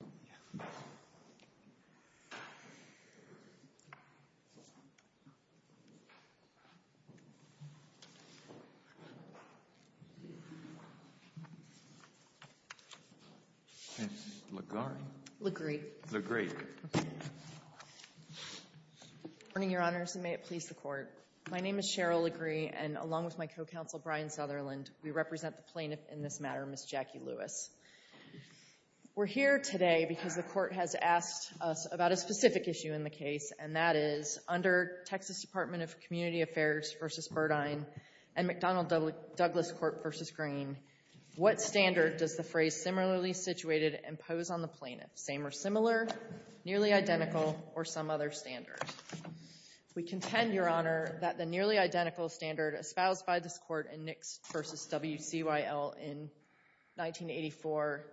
Good morning, Your Honors, and may it please the Court. My name is Cheryl Legree, and along with my co-counsel Brian Sutherland, we represent the plaintiff in this matter, Ms. Jackie Lewis. We're here today because the Court has asked us about a specific issue in the case, and that is, under Texas Department of Community Affairs v. Burdine and McDonnell-Douglas Court v. Green, what standard does the phrase, similarly situated, impose on the plaintiff, same or similar, nearly identical, or some other standard? We contend, Your Honor, that the nearly identical standard espoused by this Court in Nix v. WCYL in 1984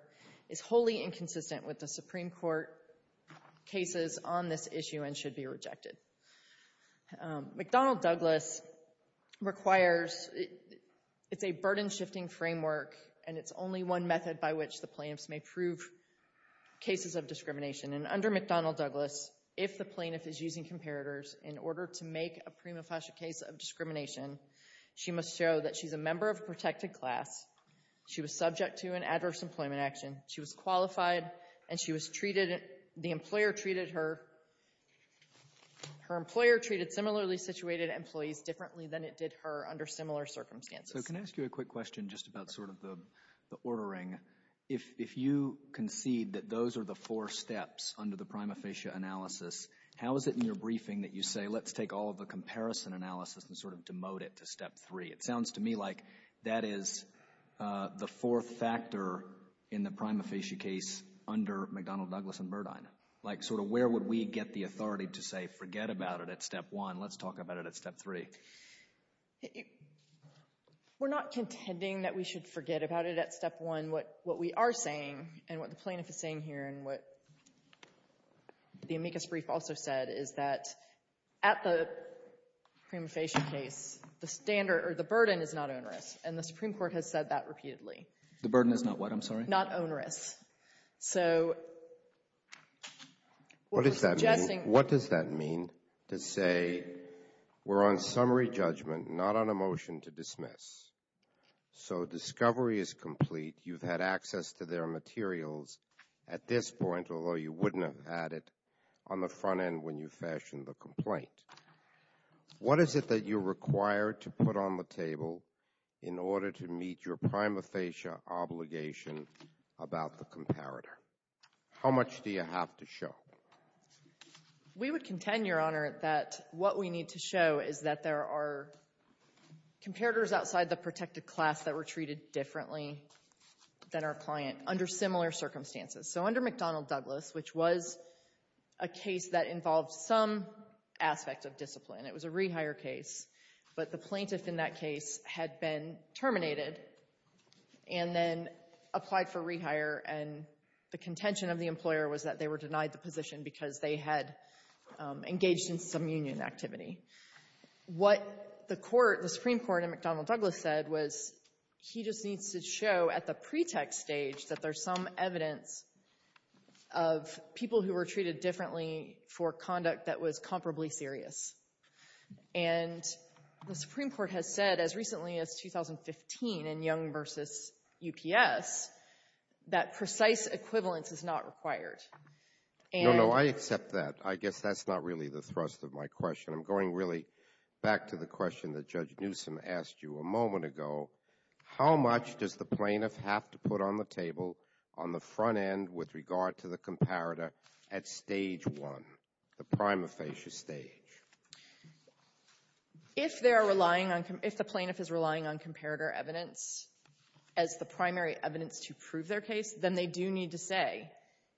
is wholly inconsistent with the Supreme Court cases on this issue and should be rejected. McDonnell-Douglas requires, it's a burden-shifting framework, and it's only one method by which the plaintiffs may prove cases of discrimination. And under McDonnell-Douglas, if the plaintiff is using comparators in order to make a prima facie case of discrimination, she must show that she's a member of a protected class, she was subject to an adverse employment action, she was qualified, and she was treated, the employer treated her similarly situated employees differently than it did her under similar circumstances. So can I ask you a quick question just about sort of the ordering? If you concede that those are the four steps under the prima facie analysis, how is it in your briefing that you say, let's take all of the comparison analysis and sort of demote it to step three? It sounds to me like that is the fourth factor in the prima facie case under McDonnell-Douglas and Burdine. Like sort of where would we get the authority to say, forget about it at step one, let's talk about it at step three? We're not contending that we should forget about it at step one. What we are saying and what the plaintiff is saying here and what the amicus brief also said is that at the prima facie case, the burden is not onerous, and the Supreme Court has said that repeatedly. The burden is not what, I'm sorry? Not onerous. What does that mean? What does that mean to say we're on summary judgment, not on a motion to dismiss? So discovery is complete, you've had access to their materials at this point, although you wouldn't have had it on the front end when you fashioned the complaint. What is it that you're required to put on the table in order to meet your prima facie obligation about the comparator? How much do you have to show? We would contend, Your Honor, that what we need to show is that there are comparators outside the protected class that were treated differently than our client under similar circumstances. So under McDonnell-Douglas, which was a case that involved some aspect of discipline, it was a rehire case, but the plaintiff in that case had been terminated and then applied for rehire, and the contention of the employer was that they were denied the position because they had engaged in some union activity. What the Supreme Court in McDonnell-Douglas said was he just needs to show at the pretext stage that there's some evidence of people who were treated differently for conduct that was comparably serious. And the Supreme Court has said, as recently as 2015 in Young v. UPS, that precise equivalence is not required. No, no, I accept that. I guess that's not really the thrust of my question. I'm going really back to the question that Judge Newsom asked you a moment ago. How much does the plaintiff have to put on the table on the front end with regard to the comparator at stage one, the prima facie stage? If they are relying on – if the plaintiff is relying on comparator evidence as the primary evidence to prove their case, then they do need to say,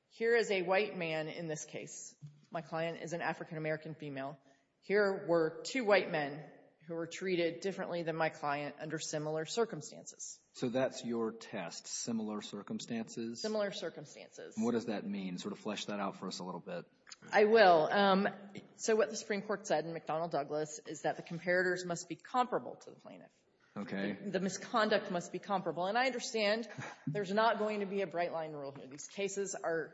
here is a white man in this case. My client is an African-American female. Here were two white men who were treated differently than my client under similar circumstances. So that's your test, similar circumstances? Similar circumstances. And what does that mean? Sort of flesh that out for us a little bit. I will. So what the Supreme Court said in McDonnell-Douglas is that the comparators must be comparable to the plaintiff. Okay. The misconduct must be comparable. And I understand there's not going to be a bright-line rule here. These cases are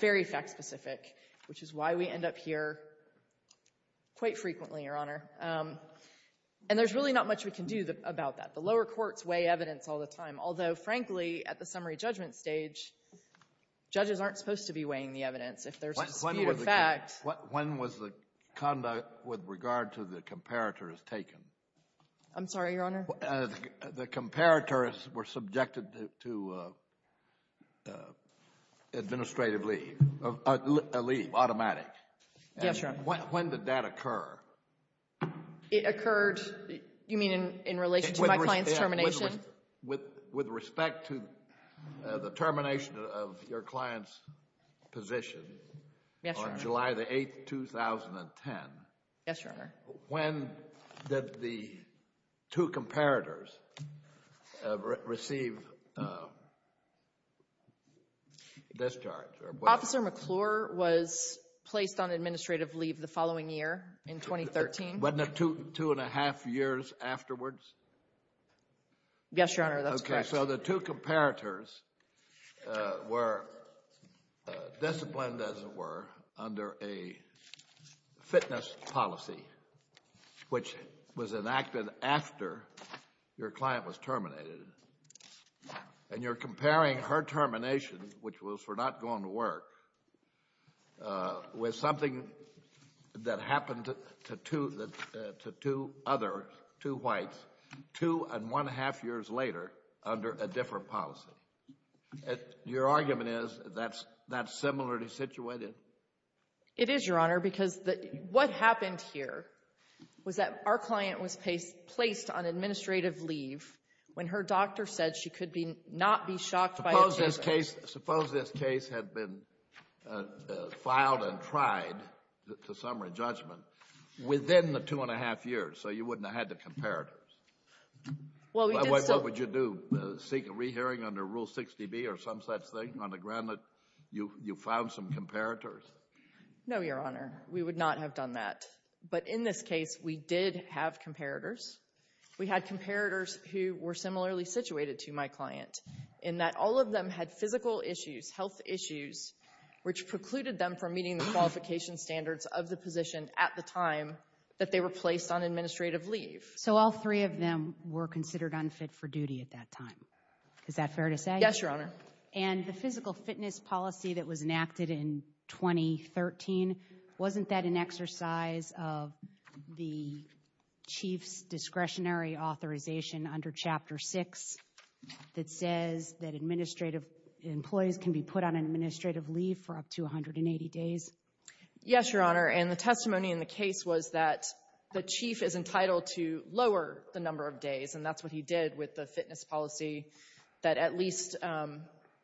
very fact-specific, which is why we end up here quite frequently, Your Honor. And there's really not much we can do about that. The lower courts weigh evidence all the time. When was the conduct with regard to the comparators taken? I'm sorry, Your Honor? The comparators were subjected to administrative leave, a leave, automatic. Yes, Your Honor. When did that occur? It occurred, you mean, in relation to my client's termination? With respect to the termination of your client's position on July the 8th, 2010. Yes, Your Honor. When did the two comparators receive discharge? Officer McClure was placed on administrative leave the following year, in 2013. Wasn't it two and a half years afterwards? Yes, Your Honor, that's correct. Okay. So the two comparators were disciplined, as it were, under a fitness policy, which was enacted after your client was terminated. And you're comparing her termination, which was for not going to work, with something that happened to two other, two whites, two and one-half years later under a different policy. Your argument is that's similarly situated? It is, Your Honor, because what happened here was that our client was placed on administrative leave when her doctor said she could not be shocked by a treatment. Suppose this case had been filed and tried to summary judgment within the two and a half years, so you wouldn't have had the comparators. What would you do, seek a rehearing under Rule 60B or some such thing on the ground that you found some comparators? No, Your Honor. We would not have done that. But in this case, we did have comparators. We had comparators who were similarly situated to my client, in that all of them had physical issues, health issues, which precluded them from meeting the qualification standards of the position at the time that they were placed on administrative leave. So all three of them were considered unfit for duty at that time. Is that fair to say? Yes, Your Honor. And the physical fitness policy that was enacted in 2013, wasn't that an exercise of the chief's discretionary authorization under Chapter 6 that says that employees can be put on administrative leave for up to 180 days? Yes, Your Honor. And the testimony in the case was that the chief is entitled to lower the number of days, and that's what he did with the fitness policy that at least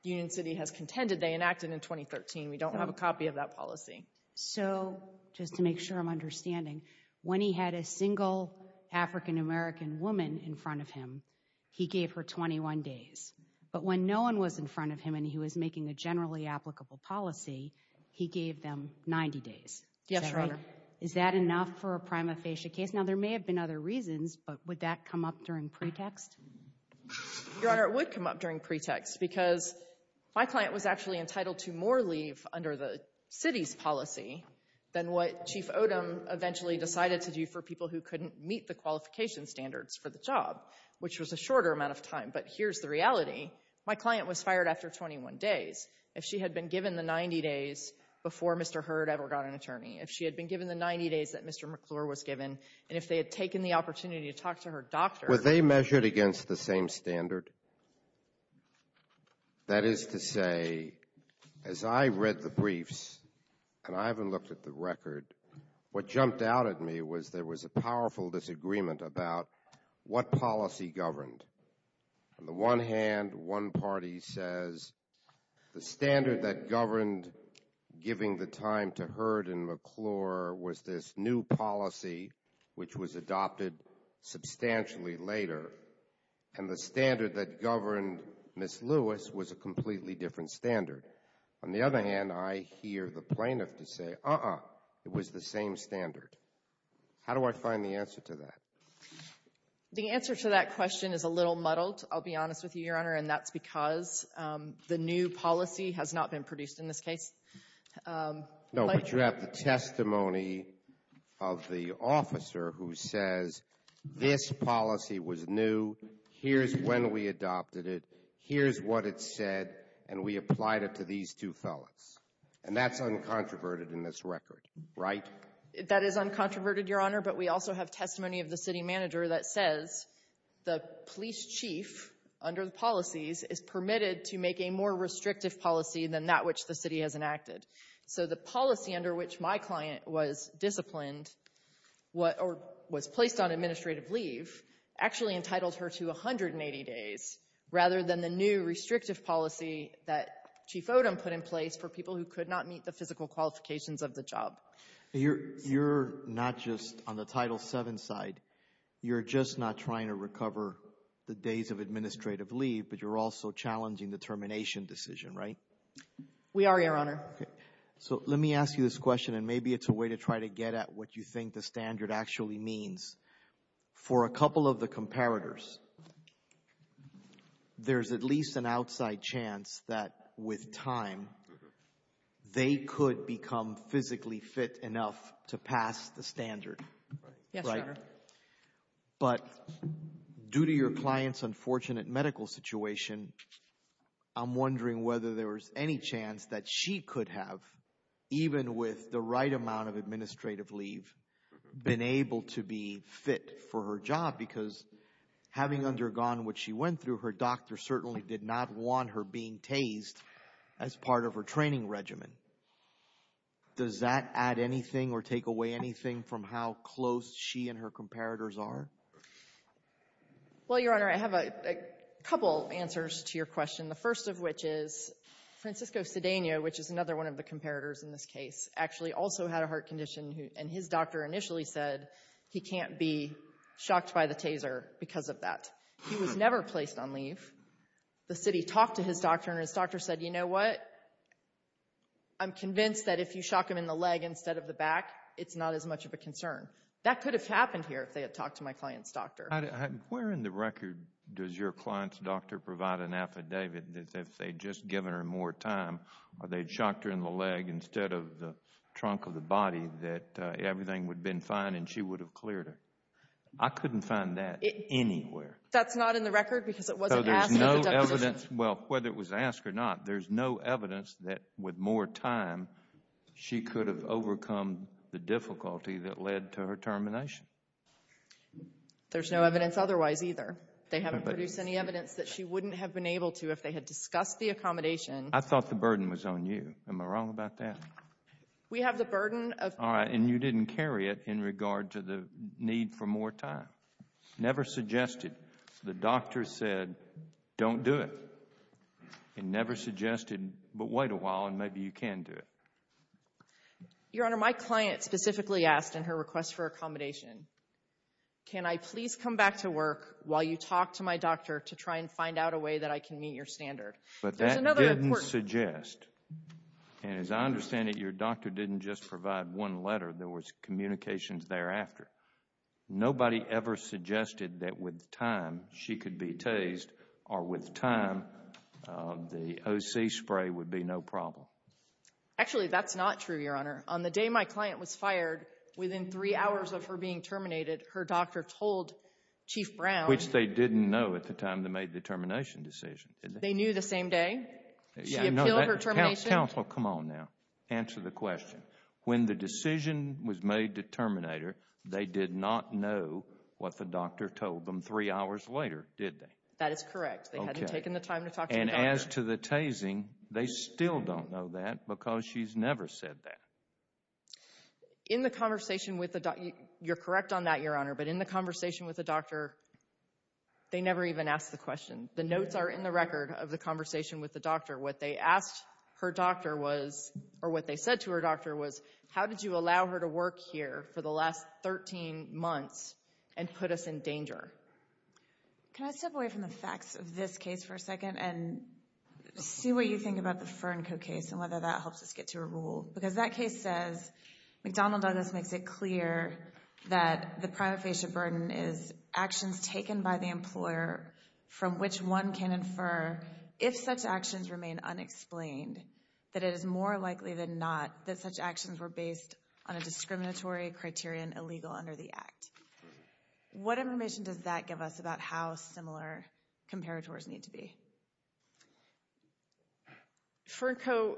Union City has contended they enacted in 2013. We don't have a copy of that policy. So, just to make sure I'm understanding, when he had a single African-American woman in front of him, he gave her 21 days. But when no one was in front of him and he was making a generally applicable policy, he gave them 90 days. Yes, Your Honor. Is that enough for a prima facie case? Now, there may have been other reasons, but would that come up during pretext? Your Honor, it would come up during pretext, because my client was actually entitled to more leave under the city's policy than what Chief Odom eventually decided to do for people who couldn't meet the qualification standards for the job, which was a shorter amount of time. But here's the reality. My client was fired after 21 days. If she had been given the 90 days before Mr. Hurd ever got an attorney, if she had been given the 90 days that Mr. McClure was given, and if they had taken the opportunity to talk to her doctor — Were they measured against the same standard? That is to say, as I read the briefs, and I haven't looked at the record, what jumped out at me was there was a powerful disagreement about what policy governed. On the one hand, one party says the standard that governed giving the time to Hurd and McClure was this new policy, which was adopted substantially later, and the standard that governed Ms. Lewis was a completely different standard. On the other hand, I hear the plaintiff say, uh-uh, it was the same standard. How do I find the answer to that? The answer to that question is a little muddled, I'll be honest with you, Your Honor, and that's because the new policy has not been produced in this case. No, but you have the testimony of the officer who says this policy was new, here's when we adopted it, here's what it said, and we applied it to these two fellas. And that's uncontroverted in this record, right? That is uncontroverted, Your Honor, but we also have testimony of the city manager that says the police chief under the policies is permitted to make a more restrictive policy than that which the city has enacted. So the policy under which my client was disciplined or was placed on administrative leave actually entitled her to 180 days rather than the new restrictive policy that Chief Odom put in place for people who could not meet the physical qualifications of the job. You're not just on the Title VII side. You're just not trying to recover the days of administrative leave, but you're also challenging the termination decision, right? We are, Your Honor. So let me ask you this question, and maybe it's a way to try to get at what you think the standard actually means. For a couple of the comparators, there's at least an outside chance that with time they could become physically fit enough to pass the standard, right? Yes, Your Honor. But due to your client's unfortunate medical situation, I'm wondering whether there was any chance that she could have, even with the right amount of administrative leave, been able to be fit for her job because having undergone what she went through, her doctor certainly did not want her being tased as part of her training regimen. Does that add anything or take away anything from how close she and her comparators are? Well, Your Honor, I have a couple answers to your question, the first of which is Francisco Cedeno, which is another one of the comparators in this case, actually also had a heart condition, and his doctor initially said he can't be shocked by the taser because of that. He was never placed on leave. The city talked to his doctor, and his doctor said, you know what, I'm convinced that if you shock him in the leg instead of the back, it's not as much of a concern. That could have happened here if they had talked to my client's doctor. Where in the record does your client's doctor provide an affidavit that if they'd just given her more time or they'd shocked her in the leg instead of the trunk of the body, that everything would have been fine and she would have cleared her? I couldn't find that anywhere. That's not in the record because it wasn't asked at the deposition. Well, whether it was asked or not, there's no evidence that with more time she could have overcome the difficulty that led to her termination. There's no evidence otherwise either. They haven't produced any evidence that she wouldn't have been able to if they had discussed the accommodation. I thought the burden was on you. Am I wrong about that? We have the burden of— All right, and you didn't carry it in regard to the need for more time. Never suggested. The doctor said, don't do it. And never suggested, but wait a while and maybe you can do it. Your Honor, my client specifically asked in her request for accommodation, can I please come back to work while you talk to my doctor to try and find out a way that I can meet your standard? But that didn't suggest, and as I understand it, your doctor didn't just provide one letter. There was communications thereafter. Nobody ever suggested that with time she could be tased or with time the OC spray would be no problem. Actually, that's not true, Your Honor. On the day my client was fired, within three hours of her being terminated, her doctor told Chief Brown— Which they didn't know at the time they made the termination decision. They knew the same day she appealed her termination? Counsel, come on now. Answer the question. When the decision was made to terminate her, they did not know what the doctor told them three hours later, did they? That is correct. They hadn't taken the time to talk to the doctor. It's amazing they still don't know that because she's never said that. In the conversation with the doctor—you're correct on that, Your Honor— but in the conversation with the doctor, they never even asked the question. The notes are in the record of the conversation with the doctor. What they asked her doctor was, or what they said to her doctor was, how did you allow her to work here for the last 13 months and put us in danger? See what you think about the Fernco case and whether that helps us get to a rule. Because that case says McDonald Douglas makes it clear that the prima facie burden is actions taken by the employer from which one can infer, if such actions remain unexplained, that it is more likely than not that such actions were based on a discriminatory criterion illegal under the Act. What information does that give us about how similar comparators need to be? Fernco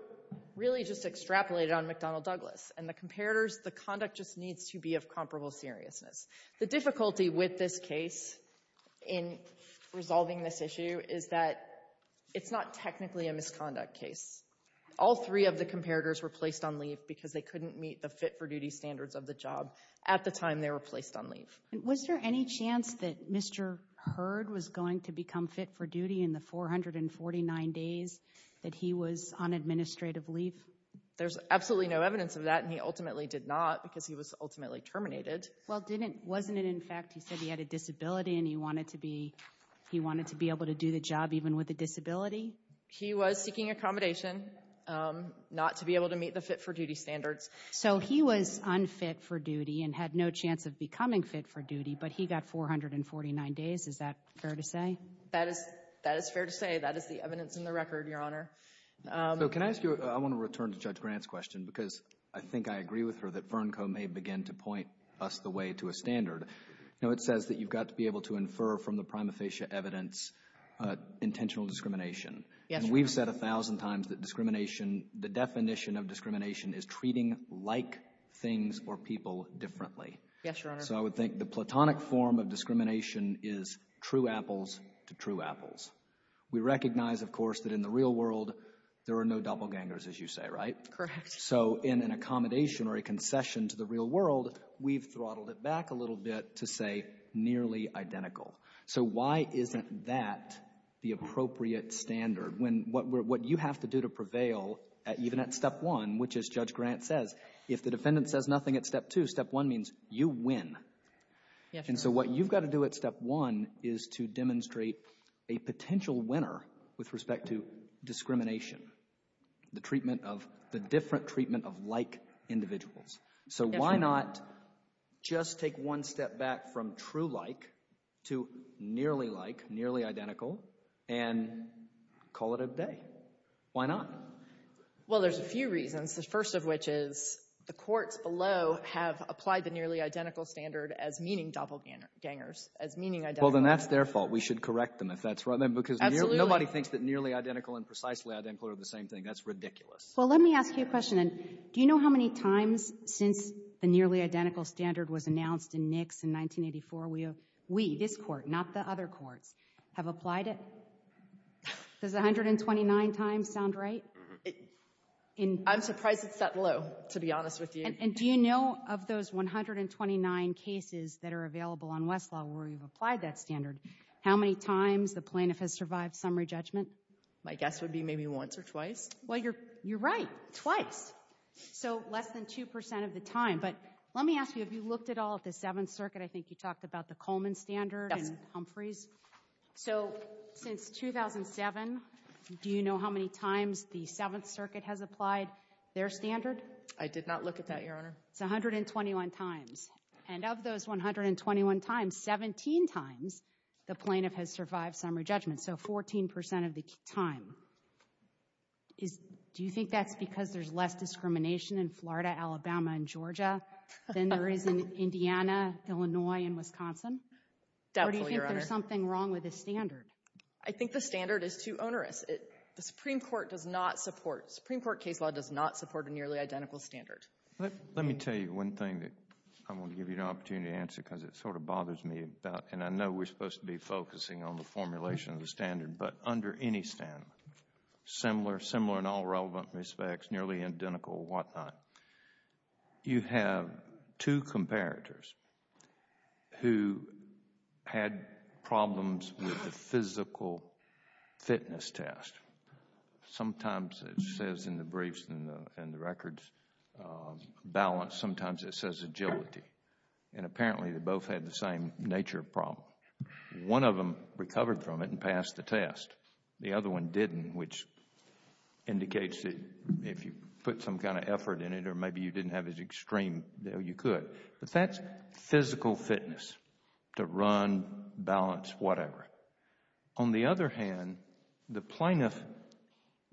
really just extrapolated on McDonald Douglas. And the comparators, the conduct just needs to be of comparable seriousness. The difficulty with this case in resolving this issue is that it's not technically a misconduct case. All three of the comparators were placed on leave because they couldn't meet the fit-for-duty standards of the job at the time they were placed on leave. Was there any chance that Mr. Hurd was going to become fit-for-duty in the 449 days that he was on administrative leave? There's absolutely no evidence of that, and he ultimately did not because he was ultimately terminated. Well, wasn't it in fact he said he had a disability and he wanted to be able to do the job even with a disability? He was seeking accommodation not to be able to meet the fit-for-duty standards. So he was unfit for duty and had no chance of becoming fit-for-duty, but he got 449 days. Is that fair to say? That is fair to say. That is the evidence in the record, Your Honor. So can I ask you, I want to return to Judge Grant's question because I think I agree with her that Fernco may begin to point us the way to a standard. You know, it says that you've got to be able to infer from the prima facie evidence intentional discrimination. Yes, Your Honor. We've heard a thousand times that discrimination, the definition of discrimination is treating like things or people differently. Yes, Your Honor. So I would think the platonic form of discrimination is true apples to true apples. We recognize, of course, that in the real world there are no doppelgangers, as you say, right? Correct. So in an accommodation or a concession to the real world, we've throttled it back a little bit to say nearly identical. So why isn't that the appropriate standard? When what you have to do to prevail, even at Step 1, which as Judge Grant says, if the defendant says nothing at Step 2, Step 1 means you win. Yes, Your Honor. And so what you've got to do at Step 1 is to demonstrate a potential winner with respect to discrimination, the treatment of the different treatment of like individuals. Yes, Your Honor. Why not just take one step back from true like to nearly like, nearly identical, and call it a day? Why not? Well, there's a few reasons, the first of which is the courts below have applied the nearly identical standard as meaning doppelgangers, as meaning identical. Well, then that's their fault. We should correct them if that's right. Absolutely. Because nobody thinks that nearly identical and precisely identical are the same thing. That's ridiculous. Well, let me ask you a question. Do you know how many times since the nearly identical standard was announced in Nix in 1984, we, this Court, not the other courts, have applied it? Does 129 times sound right? I'm surprised it's that low, to be honest with you. And do you know of those 129 cases that are available on Westlaw where you've applied that standard, how many times the plaintiff has survived summary judgment? My guess would be maybe once or twice. Well, you're right, twice, so less than 2% of the time. But let me ask you, have you looked at all at the Seventh Circuit? I think you talked about the Coleman standard and Humphreys. Yes. So since 2007, do you know how many times the Seventh Circuit has applied their standard? I did not look at that, Your Honor. It's 121 times. And of those 121 times, 17 times the plaintiff has survived summary judgment, so 14% of the time. Do you think that's because there's less discrimination in Florida, Alabama, and Georgia than there is in Indiana, Illinois, and Wisconsin? Definitely, Your Honor. Or do you think there's something wrong with the standard? I think the standard is too onerous. The Supreme Court does not support, Supreme Court case law does not support a nearly identical standard. Let me tell you one thing that I want to give you an opportunity to answer because it sort of bothers me. And I know we're supposed to be focusing on the formulation of the standard, but under any standard, similar in all relevant respects, nearly identical, whatnot, you have two comparators who had problems with the physical fitness test. Sometimes it says in the briefs and the records, balance. Sometimes it says agility. And apparently they both had the same nature of problem. One of them recovered from it and passed the test. The other one didn't, which indicates that if you put some kind of effort in it, or maybe you didn't have as extreme, you could. But that's physical fitness, to run, balance, whatever. On the other hand, the plaintiff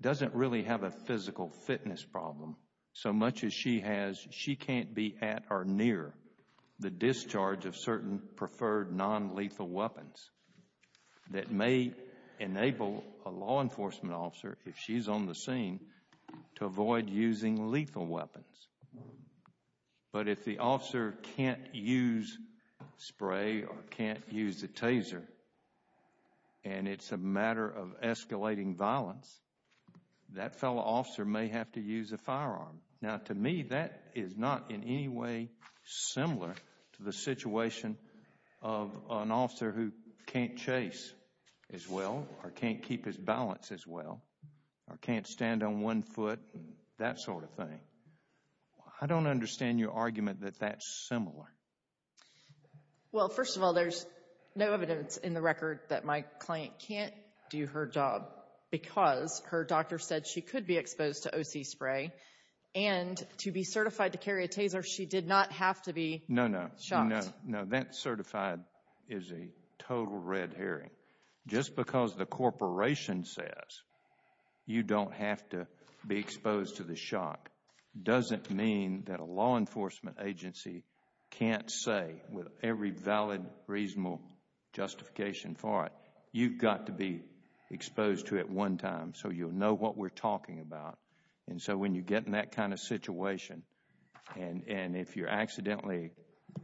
doesn't really have a physical fitness problem. So much as she has, she can't be at or near the discharge of certain preferred nonlethal weapons that may enable a law enforcement officer, if she's on the scene, to avoid using lethal weapons. But if the officer can't use spray or can't use the taser, and it's a matter of escalating violence, that fellow officer may have to use a firearm. Now, to me, that is not in any way similar to the situation of an officer who can't chase as well, or can't keep his balance as well, or can't stand on one foot, that sort of thing. I don't understand your argument that that's similar. Well, first of all, there's no evidence in the record that my client can't do her job because her doctor said she could be exposed to O.C. spray. And to be certified to carry a taser, she did not have to be shot. No, no, no, that certified is a total red herring. Just because the corporation says you don't have to be exposed to the shock doesn't mean that a law enforcement agency can't say, with every valid, reasonable justification for it, you've got to be exposed to it one time so you'll know what we're talking about. And so when you get in that kind of situation, and if you're accidentally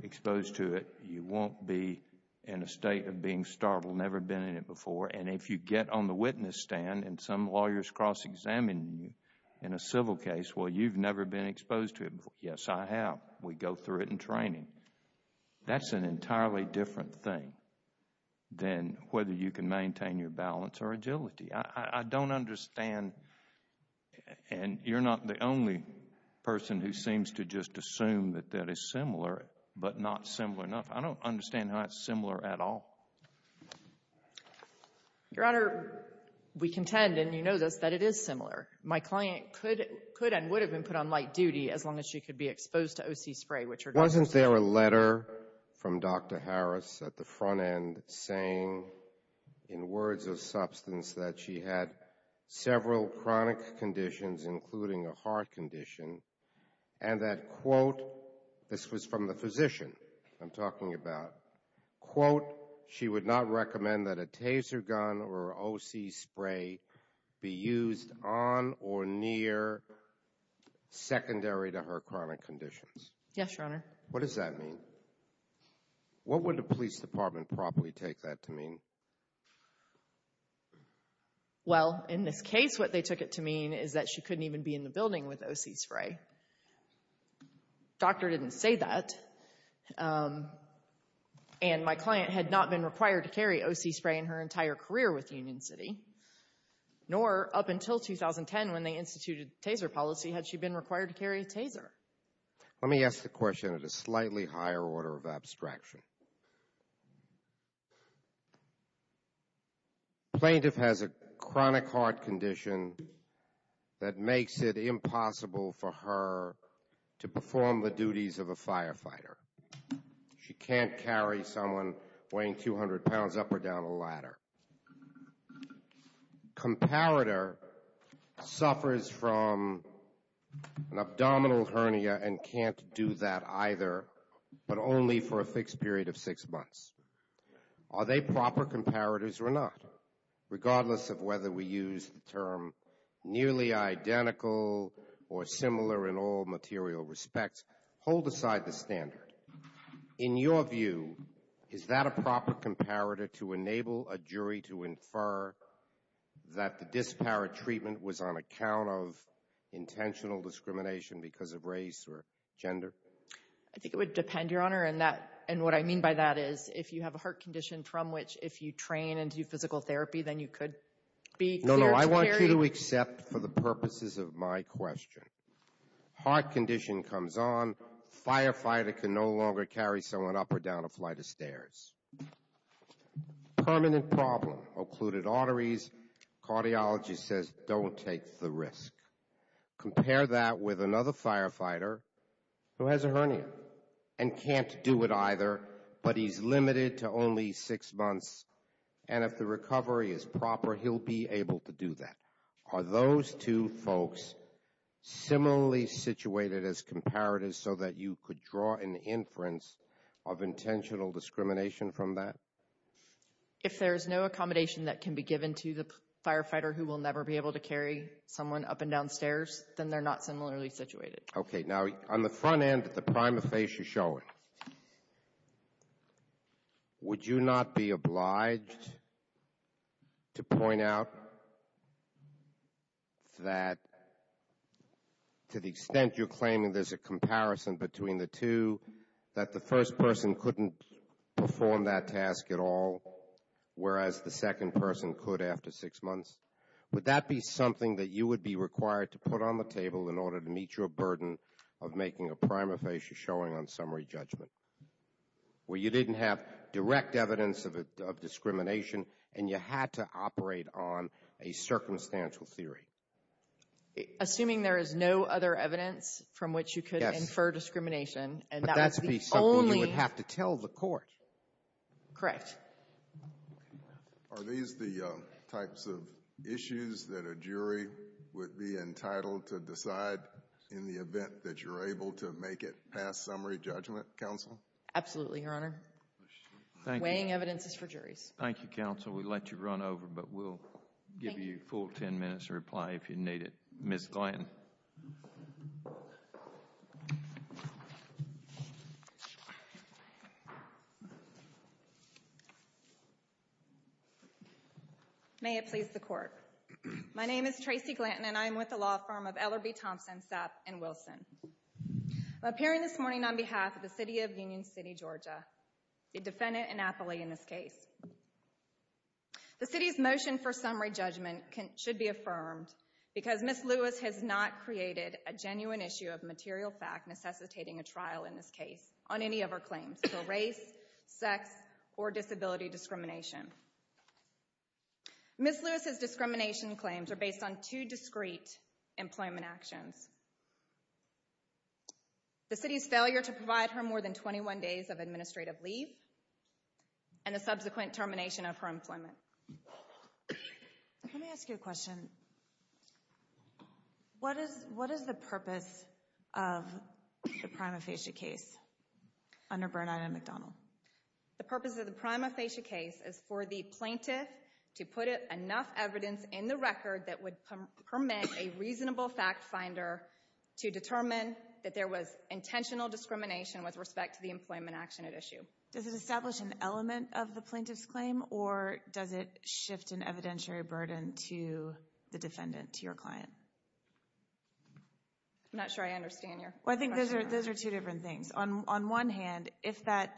exposed to it, you won't be in a state of being startled, never been in it before. And if you get on the witness stand and some lawyers cross-examine you in a civil case, well, you've never been exposed to it before. Yes, I have. We go through it in training. That's an entirely different thing than whether you can maintain your balance or agility. I don't understand, and you're not the only person who seems to just assume that that is similar, but not similar enough. I don't understand how that's similar at all. Your Honor, we contend, and you know this, that it is similar. My client could and would have been put on light duty as long as she could be exposed to O.C. spray. Wasn't there a letter from Dr. Harris at the front end saying, in words of substance, that she had several chronic conditions, including a heart condition, and that, quote, this was from the physician I'm talking about, quote, she would not recommend that a taser gun or O.C. spray be used on or near secondary to her chronic conditions. Yes, Your Honor. What does that mean? What would a police department probably take that to mean? Well, in this case, what they took it to mean is that she couldn't even be in the building with O.C. spray. The doctor didn't say that, and my client had not been required to carry O.C. spray in her entire career with Union City, nor up until 2010 when they instituted the taser policy had she been required to carry a taser. Let me ask the question at a slightly higher order of abstraction. Plaintiff has a chronic heart condition that makes it impossible for her to perform the duties of a firefighter. She can't carry someone weighing 200 pounds up or down a ladder. Comparator suffers from an abdominal hernia and can't do that either, but only for a fixed period of six months. Are they proper comparators or not? Regardless of whether we use the term nearly identical or similar in all material respects, hold aside the standard. In your view, is that a proper comparator to enable a jury to infer that the disparate treatment I think it would depend, Your Honor. And what I mean by that is if you have a heart condition from which if you train and do physical therapy, then you could be clear to carry. No, no. I want you to accept for the purposes of my question. Heart condition comes on. Firefighter can no longer carry someone up or down a flight of stairs. Permanent problem. Occluded arteries. Cardiology says don't take the risk. Compare that with another firefighter who has a hernia and can't do it either, but he's limited to only six months. And if the recovery is proper, he'll be able to do that. Are those two folks similarly situated as comparators so that you could draw an inference of intentional discrimination from that? If there's no accommodation that can be given to the firefighter who will never be able to carry someone up and down stairs, then they're not similarly situated. Okay. Now, on the front end of the prima facie showing, would you not be obliged to point out that to the extent you're claiming there's a comparison between the two, that the first person couldn't perform that task at all, whereas the second person could after six months? Would that be something that you would be required to put on the table in order to meet your burden of making a prima facie showing on summary judgment, where you didn't have direct evidence of discrimination and you had to operate on a circumstantial theory? Assuming there is no other evidence from which you could infer discrimination. But that would be something you would have to tell the court. Correct. Are these the types of issues that a jury would be entitled to decide in the event that you're able to make it past summary judgment, counsel? Absolutely, Your Honor. Thank you. Weighing evidence is for juries. Thank you, counsel. We let you run over, but we'll give you a full ten minutes to reply if you need it. Ms. Glanton. May it please the Court. My name is Tracy Glanton, and I am with the law firm of Ellerby, Thompson, Sapp & Wilson. I'm appearing this morning on behalf of the city of Union City, Georgia, the defendant, Annapolis, in this case. The city's motion for summary judgment should be affirmed because Ms. Lewis has not created a genuine issue of material fact necessitating a trial in this case on any of her claims for race, sex, or disability discrimination. Ms. Lewis's discrimination claims are based on two discrete employment actions. The city's failure to provide her more than 21 days of administrative leave and the subsequent termination of her employment. Let me ask you a question. What is the purpose of the prima facie case under Bernard and McDonald? The purpose of the prima facie case is for the plaintiff to put enough evidence in the record that would permit a reasonable fact finder to determine that there was intentional discrimination with respect to the employment action at issue. Does it establish an element of the plaintiff's claim, or does it shift an evidentiary burden to the defendant, to your client? I'm not sure I understand your question. I think those are two different things. On one hand, if that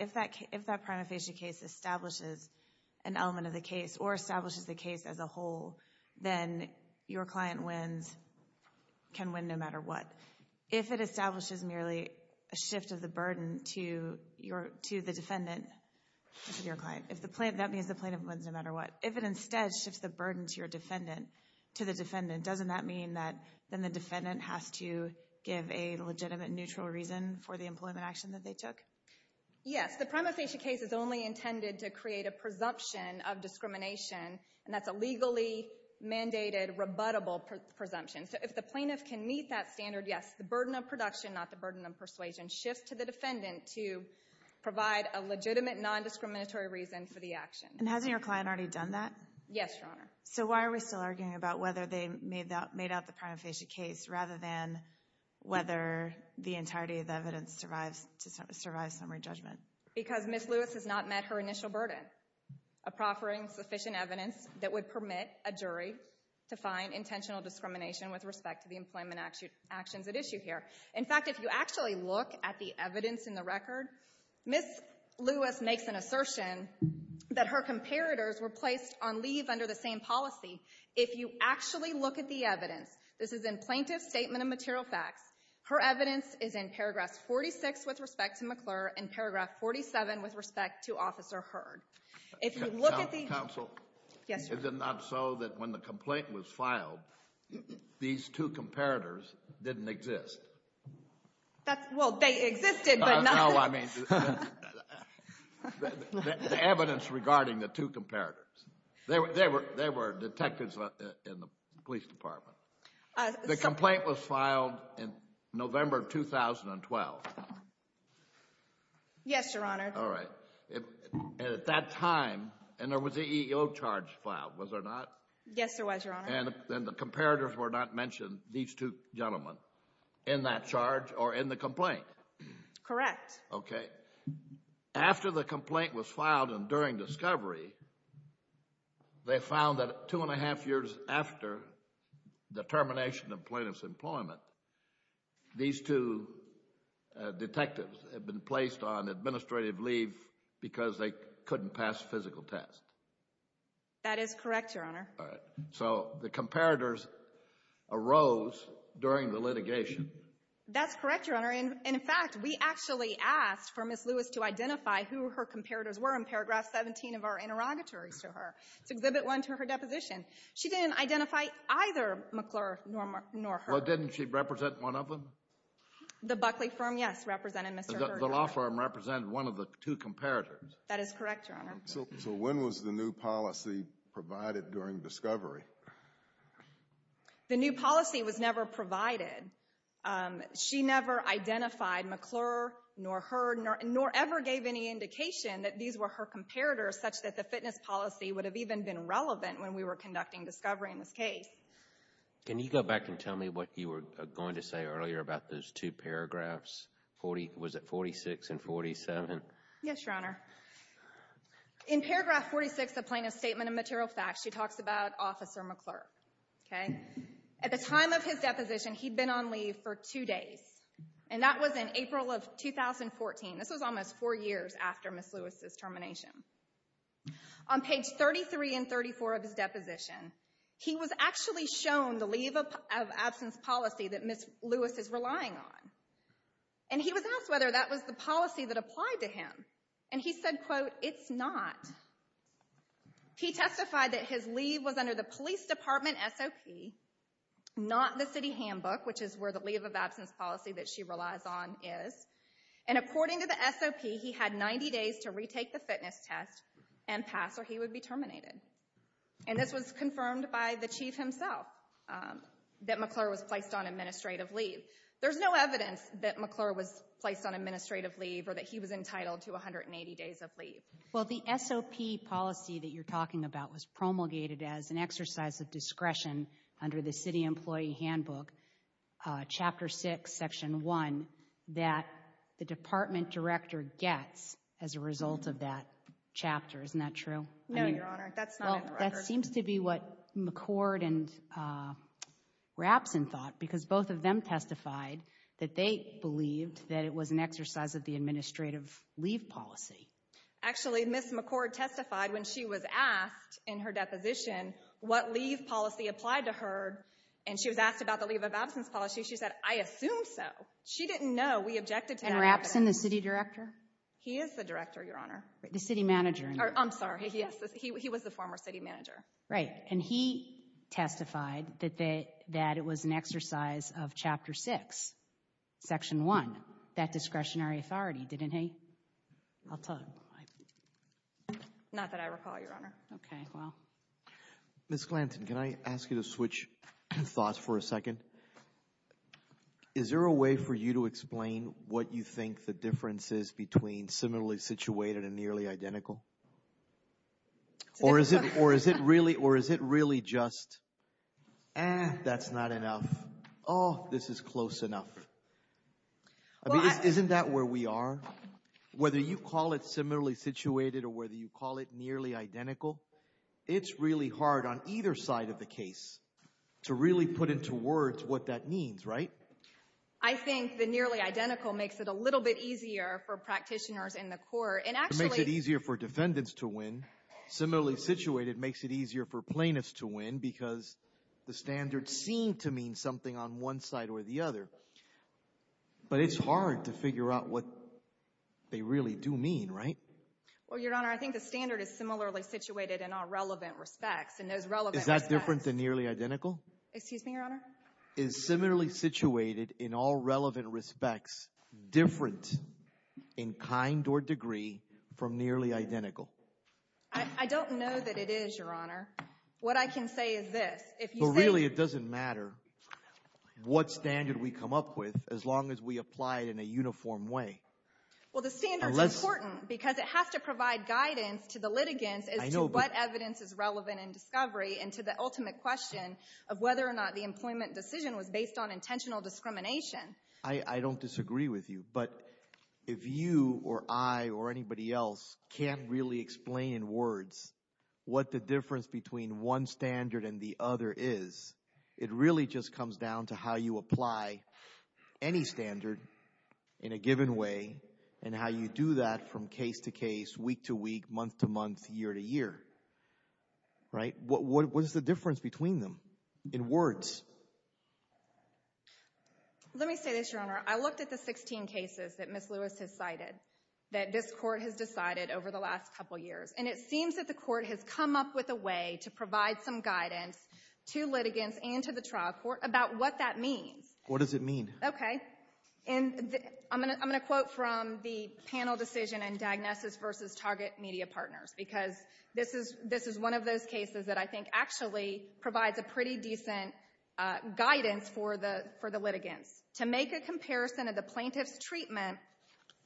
prima facie case establishes an element of the case or establishes the case as a whole, then your client wins, can win no matter what. If it establishes merely a shift of the burden to the defendant, to your client, that means the plaintiff wins no matter what. If it instead shifts the burden to the defendant, doesn't that mean that then the defendant has to give a legitimate neutral reason for the employment action that they took? Yes. The prima facie case is only intended to create a presumption of discrimination, and that's a legally mandated, rebuttable presumption. So if the plaintiff can meet that standard, yes. The burden of production, not the burden of persuasion, shifts to the defendant to provide a legitimate nondiscriminatory reason for the action. And hasn't your client already done that? Yes, Your Honor. So why are we still arguing about whether they made out the prima facie case rather than whether the entirety of the evidence survives summary judgment? Because Ms. Lewis has not met her initial burden of proffering sufficient evidence that would permit a jury to find intentional discrimination with respect to the employment actions at issue here. In fact, if you actually look at the evidence in the record, Ms. Lewis makes an assertion that her comparators were placed on leave under the same policy. If you actually look at the evidence, this is in Plaintiff's Statement of Material Facts, her evidence is in paragraph 46 with respect to McClure and paragraph 47 with respect to Officer Hurd. Counsel. Yes, Your Honor. Is it not so that when the complaint was filed, these two comparators didn't exist? Well, they existed, but not the... No, I mean the evidence regarding the two comparators. They were detectives in the police department. The complaint was filed in November 2012. Yes, Your Honor. All right. And at that time, and there was an EEO charge filed, was there not? Yes, there was, Your Honor. And the comparators were not mentioned, these two gentlemen, in that charge or in the complaint? Correct. Okay. After the complaint was filed and during discovery, they found that two and a half years after the termination of Plaintiff's employment, these two detectives had been placed on administrative leave because they couldn't pass physical tests. That is correct, Your Honor. All right. So the comparators arose during the litigation. That's correct, Your Honor. And in fact, we actually asked for Ms. Lewis to identify who her comparators were in paragraph 17 of our interrogatories to her. It's Exhibit 1 to her deposition. She didn't identify either McClure nor Hurd. But didn't she represent one of them? The Buckley firm, yes, represented Mr. Hurd. The law firm represented one of the two comparators. That is correct, Your Honor. So when was the new policy provided during discovery? The new policy was never provided. She never identified McClure nor Hurd, nor ever gave any indication that these were her comparators such that the fitness policy would have even been relevant when we were conducting discovery in this case. Can you go back and tell me what you were going to say earlier about those two paragraphs? Was it 46 and 47? Yes, Your Honor. In paragraph 46 of Plaintiff's Statement of Material Facts, she talks about Officer McClure, okay? At the time of his deposition, he'd been on leave for two days. And that was in April of 2014. This was almost four years after Ms. Lewis' termination. On page 33 and 34 of his deposition, he was actually shown the leave of absence policy that Ms. Lewis is relying on. And he was asked whether that was the policy that applied to him. And he said, quote, it's not. He testified that his leave was under the police department SOP, not the city handbook, which is where the leave of absence policy that she relies on is. And according to the SOP, he had 90 days to retake the fitness test and pass or he would be terminated. And this was confirmed by the chief himself that McClure was placed on administrative leave. There's no evidence that McClure was placed on administrative leave or that he was entitled to 180 days of leave. Well, the SOP policy that you're talking about was promulgated as an exercise of discretion under the city employee handbook, Chapter 6, Section 1, that the department director gets as a result of that chapter. Isn't that true? No, Your Honor. That's not in the record. Well, that seems to be what McCord and Rapson thought, because both of them testified that they believed that it was an exercise of the administrative leave policy. Actually, Ms. McCord testified when she was asked in her deposition what leave policy applied to her. And she was asked about the leave of absence policy. She said, I assume so. She didn't know. We objected to that. And Rapson, the city director? He is the director, Your Honor. The city manager. I'm sorry. He was the former city manager. Right. And he testified that it was an exercise of Chapter 6, Section 1, that discretionary authority, didn't he? I'll tell you. Not that I recall, Your Honor. Okay, well. Ms. Glanton, can I ask you to switch thoughts for a second? Is there a way for you to explain what you think the difference is between similarly situated and nearly identical? Or is it really just, eh, that's not enough? Oh, this is close enough. Isn't that where we are? Whether you call it similarly situated or whether you call it nearly identical, it's really hard on either side of the case to really put into words what that means, right? I think the nearly identical makes it a little bit easier for practitioners in the court. It makes it easier for defendants to win. Similarly situated makes it easier for plaintiffs to win because the standards seem to mean something on one side or the other. But it's hard to figure out what they really do mean, right? Well, Your Honor, I think the standard is similarly situated in all relevant respects. Is that different than nearly identical? Excuse me, Your Honor? Is similarly situated in all relevant respects different in kind or degree from nearly identical? I don't know that it is, Your Honor. What I can say is this. Well, really it doesn't matter what standard we come up with as long as we apply it in a uniform way. Well, the standard is important because it has to provide guidance to the litigants as to what evidence is relevant in discovery and to the ultimate question of whether or not the employment decision was based on intentional discrimination. I don't disagree with you, but if you or I or anybody else can't really explain in words what the difference between one standard and the other is, it really just comes down to how you apply any standard in a given way and how you do that from case to case, week to week, month to month, year to year, right? What is the difference between them in words? Let me say this, Your Honor. I looked at the 16 cases that Ms. Lewis has cited that this Court has decided over the last couple years, and it seems that the Court has come up with a way to provide some guidance to litigants and to the trial court about what that means. What does it mean? Okay. I'm going to quote from the panel decision in Diagnosis v. Target Media Partners because this is one of those cases that I think actually provides a pretty decent guidance for the litigants. To make a comparison of the plaintiff's treatment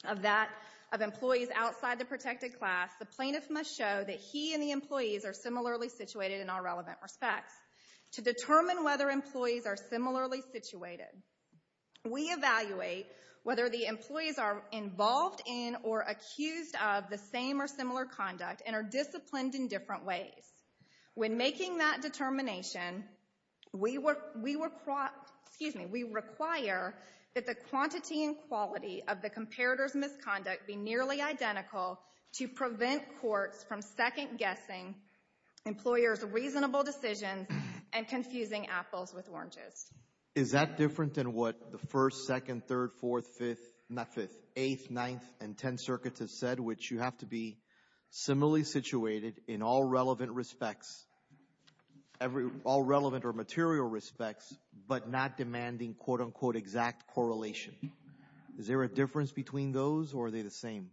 of employees outside the protected class, the plaintiff must show that he and the employees are similarly situated in all relevant respects. To determine whether employees are similarly situated, we evaluate whether the employees are involved in or accused of the same or similar conduct and are disciplined in different ways. When making that determination, we require that the quantity and quality of the comparator's misconduct be nearly identical to prevent courts from second-guessing employers' reasonable decisions and confusing apples with oranges. Is that different than what the 1st, 2nd, 3rd, 4th, 5th, not 5th, 8th, 9th, and 10th circuits have said, which you have to be similarly situated in all relevant respects, all relevant or material respects, but not demanding quote-unquote exact correlation? Is there a difference between those, or are they the same?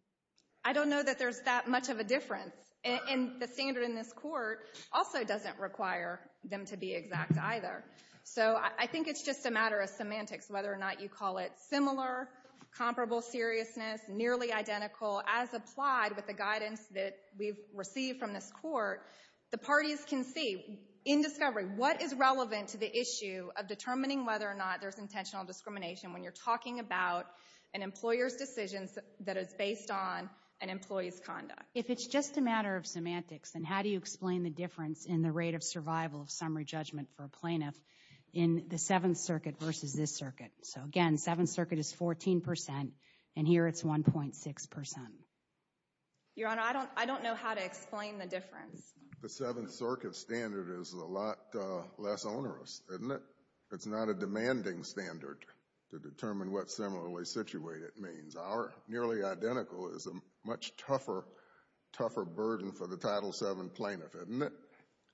I don't know that there's that much of a difference. And the standard in this Court also doesn't require them to be exact either. So I think it's just a matter of semantics, whether or not you call it similar, comparable seriousness, nearly identical, as applied with the guidance that we've received from this Court. The parties can see in discovery what is relevant to the issue of determining whether or not there's intentional discrimination when you're talking about an employer's decision that is based on an employee's conduct. If it's just a matter of semantics, then how do you explain the difference in the rate of survival of summary judgment for a plaintiff in the 7th Circuit versus this Circuit? So, again, 7th Circuit is 14 percent, and here it's 1.6 percent. Your Honor, I don't know how to explain the difference. The 7th Circuit standard is a lot less onerous, isn't it? It's not a demanding standard to determine what similarly situated means. Our nearly identical is a much tougher burden for the Title VII plaintiff, isn't it?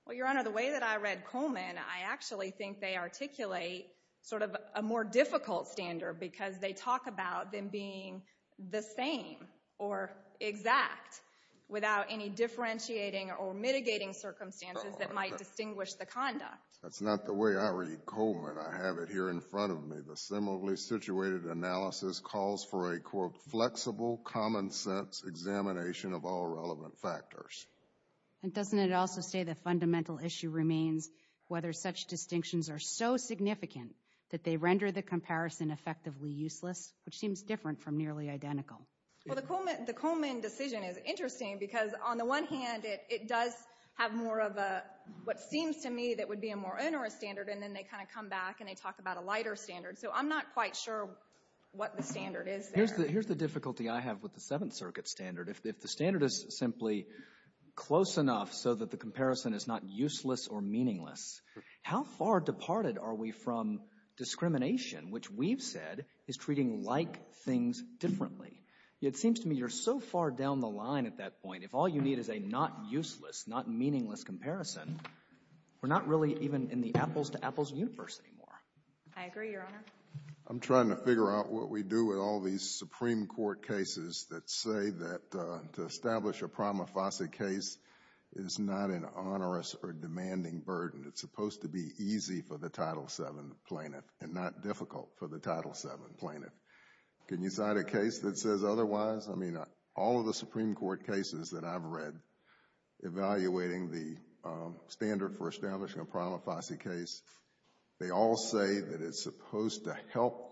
Well, Your Honor, the way that I read Coleman, I actually think they articulate sort of a more difficult standard because they talk about them being the same or exact without any differentiating or mitigating circumstances that might distinguish the conduct. That's not the way I read Coleman. I have it here in front of me. The similarly situated analysis calls for a, quote, flexible, common sense examination of all relevant factors. And doesn't it also say the fundamental issue remains whether such distinctions are so significant that they render the comparison effectively useless, which seems different from nearly identical? Well, the Coleman decision is interesting because, on the one hand, it does have more of a, what seems to me that would be a more onerous standard, and then they kind of come back and they talk about a lighter standard. So I'm not quite sure what the standard is there. Here's the difficulty I have with the 7th Circuit standard. If the standard is simply close enough so that the comparison is not useless or meaningless, how far departed are we from discrimination, which we've said is treating like things differently? It seems to me you're so far down the line at that point, if all you need is a not useless, not meaningless comparison, we're not really even in the apples-to-apples universe anymore. I agree, Your Honor. I'm trying to figure out what we do with all these Supreme Court cases that say that to establish a prima facie case is not an onerous or demanding burden. It's supposed to be easy for the Title VII plaintiff and not difficult for the Title VII plaintiff. Can you cite a case that says otherwise? I mean, all of the Supreme Court cases that I've read evaluating the standard for establishing a prima facie case, they all say that it's supposed to help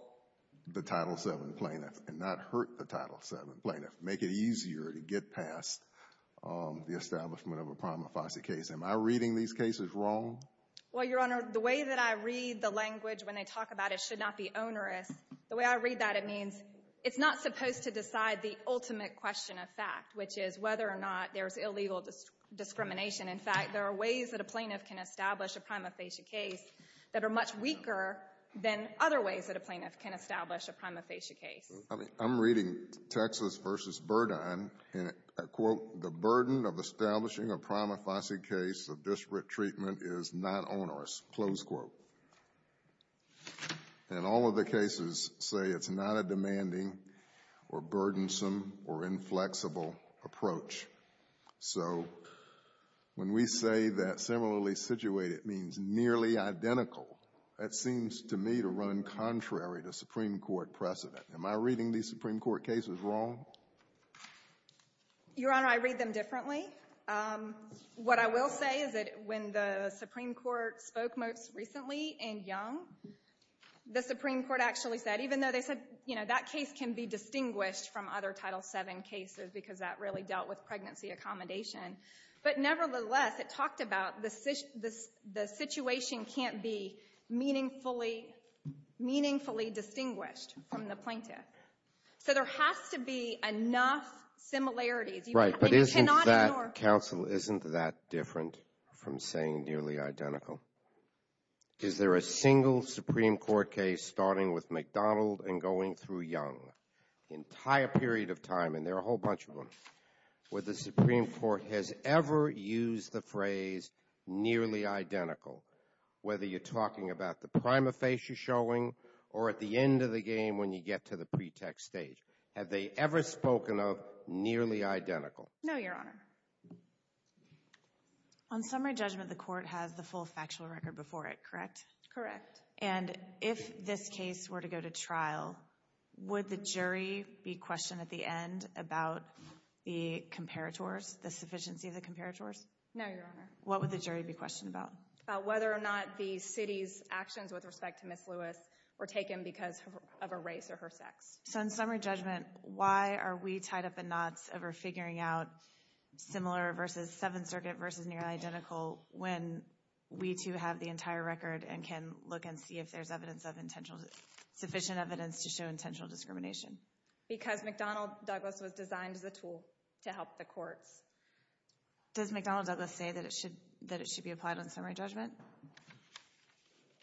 the Title VII plaintiff and not hurt the Title VII plaintiff, make it easier to get past the establishment of a prima facie case. Am I reading these cases wrong? Well, Your Honor, the way that I read the language when they talk about it should not be onerous, the way I read that, it means it's not supposed to decide the ultimate question of fact, which is whether or not there's illegal discrimination. In fact, there are ways that a plaintiff can establish a prima facie case that are much weaker than other ways that a plaintiff can establish a prima facie case. I'm reading Texas v. Burdine, and I quote, the burden of establishing a prima facie case of disparate treatment is not onerous, close quote. And all of the cases say it's not a demanding or burdensome or inflexible approach. So when we say that similarly situated means nearly identical, that seems to me to run contrary to Supreme Court precedent. Am I reading these Supreme Court cases wrong? Your Honor, I read them differently. What I will say is that when the Supreme Court spoke most recently in Young, the Supreme Court actually said, even though they said, you know, that case can be distinguished from other Title VII cases because that really dealt with pregnancy accommodation. But nevertheless, it talked about the situation can't be meaningfully distinguished from the plaintiff. So there has to be enough similarities. Right, but isn't that, counsel, isn't that different from saying nearly identical? Is there a single Supreme Court case starting with McDonald and going through Young the entire period of time, and there are a whole bunch of them, where the Supreme Court has ever used the phrase nearly identical, whether you're talking about the prima facie showing or at the end of the game when you get to the pretext stage? Have they ever spoken of nearly identical? No, Your Honor. On summary judgment, the court has the full factual record before it, correct? Correct. And if this case were to go to trial, would the jury be questioned at the end about the comparators, the sufficiency of the comparators? No, Your Honor. What would the jury be questioned about? About whether or not the city's actions with respect to Ms. Lewis were taken because of her race or her sex. So in summary judgment, why are we tied up in knots over figuring out similar versus Seventh Circuit versus nearly identical when we, too, have the entire record and can look and see if there's sufficient evidence to show intentional discrimination? Because McDonald-Douglas was designed as a tool to help the courts. Does McDonald-Douglas say that it should be applied on summary judgment?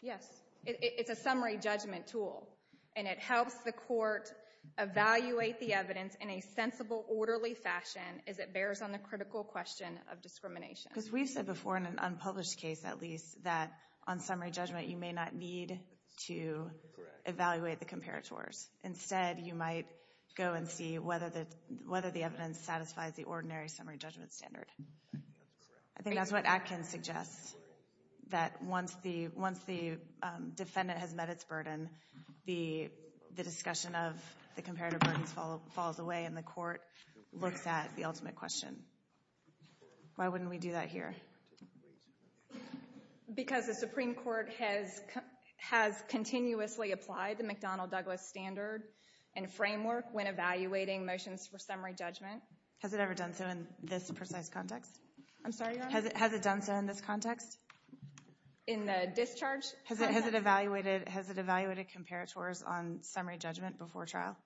Yes. It's a summary judgment tool, and it helps the court evaluate the evidence in a sensible, orderly fashion as it bears on the critical question of discrimination. Because we've said before in an unpublished case, at least, that on summary judgment you may not need to evaluate the comparators. Instead, you might go and see whether the evidence satisfies the ordinary summary judgment standard. I think that's what Atkins suggests, that once the defendant has met its burden, the discussion of the comparator burdens falls away and the court looks at the ultimate question. Why wouldn't we do that here? Because the Supreme Court has continuously applied the McDonald-Douglas standard and framework when evaluating motions for summary judgment. Has it ever done so in this precise context? I'm sorry, Your Honor? Has it done so in this context? In the discharge? Has it evaluated comparators on summary judgment before trial?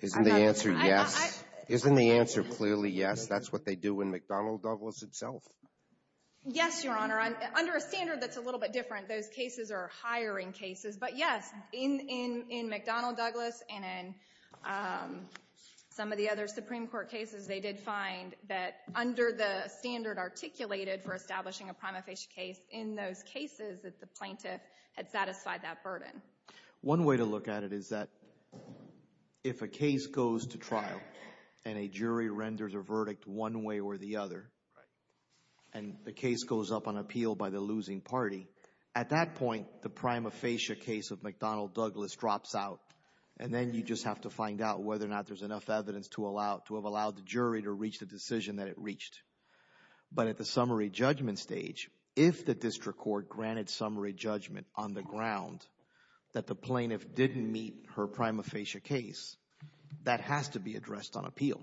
Isn't the answer yes? Isn't the answer clearly yes? That's what they do in McDonald-Douglas itself. Yes, Your Honor. Under a standard that's a little bit different, those cases are hiring cases. But, yes, in McDonald-Douglas and in some of the other Supreme Court cases, they did find that under the standard articulated for establishing a prima facie case, in those cases that the plaintiff had satisfied that burden. One way to look at it is that if a case goes to trial and a jury renders a verdict one way or the other, and the case goes up on appeal by the losing party, at that point, the prima facie case of McDonald-Douglas drops out, and then you just have to find out whether or not there's enough evidence to have allowed the jury to reach the decision that it reached. But at the summary judgment stage, if the district court granted summary judgment on the ground that the plaintiff didn't meet her prima facie case, that has to be addressed on appeal,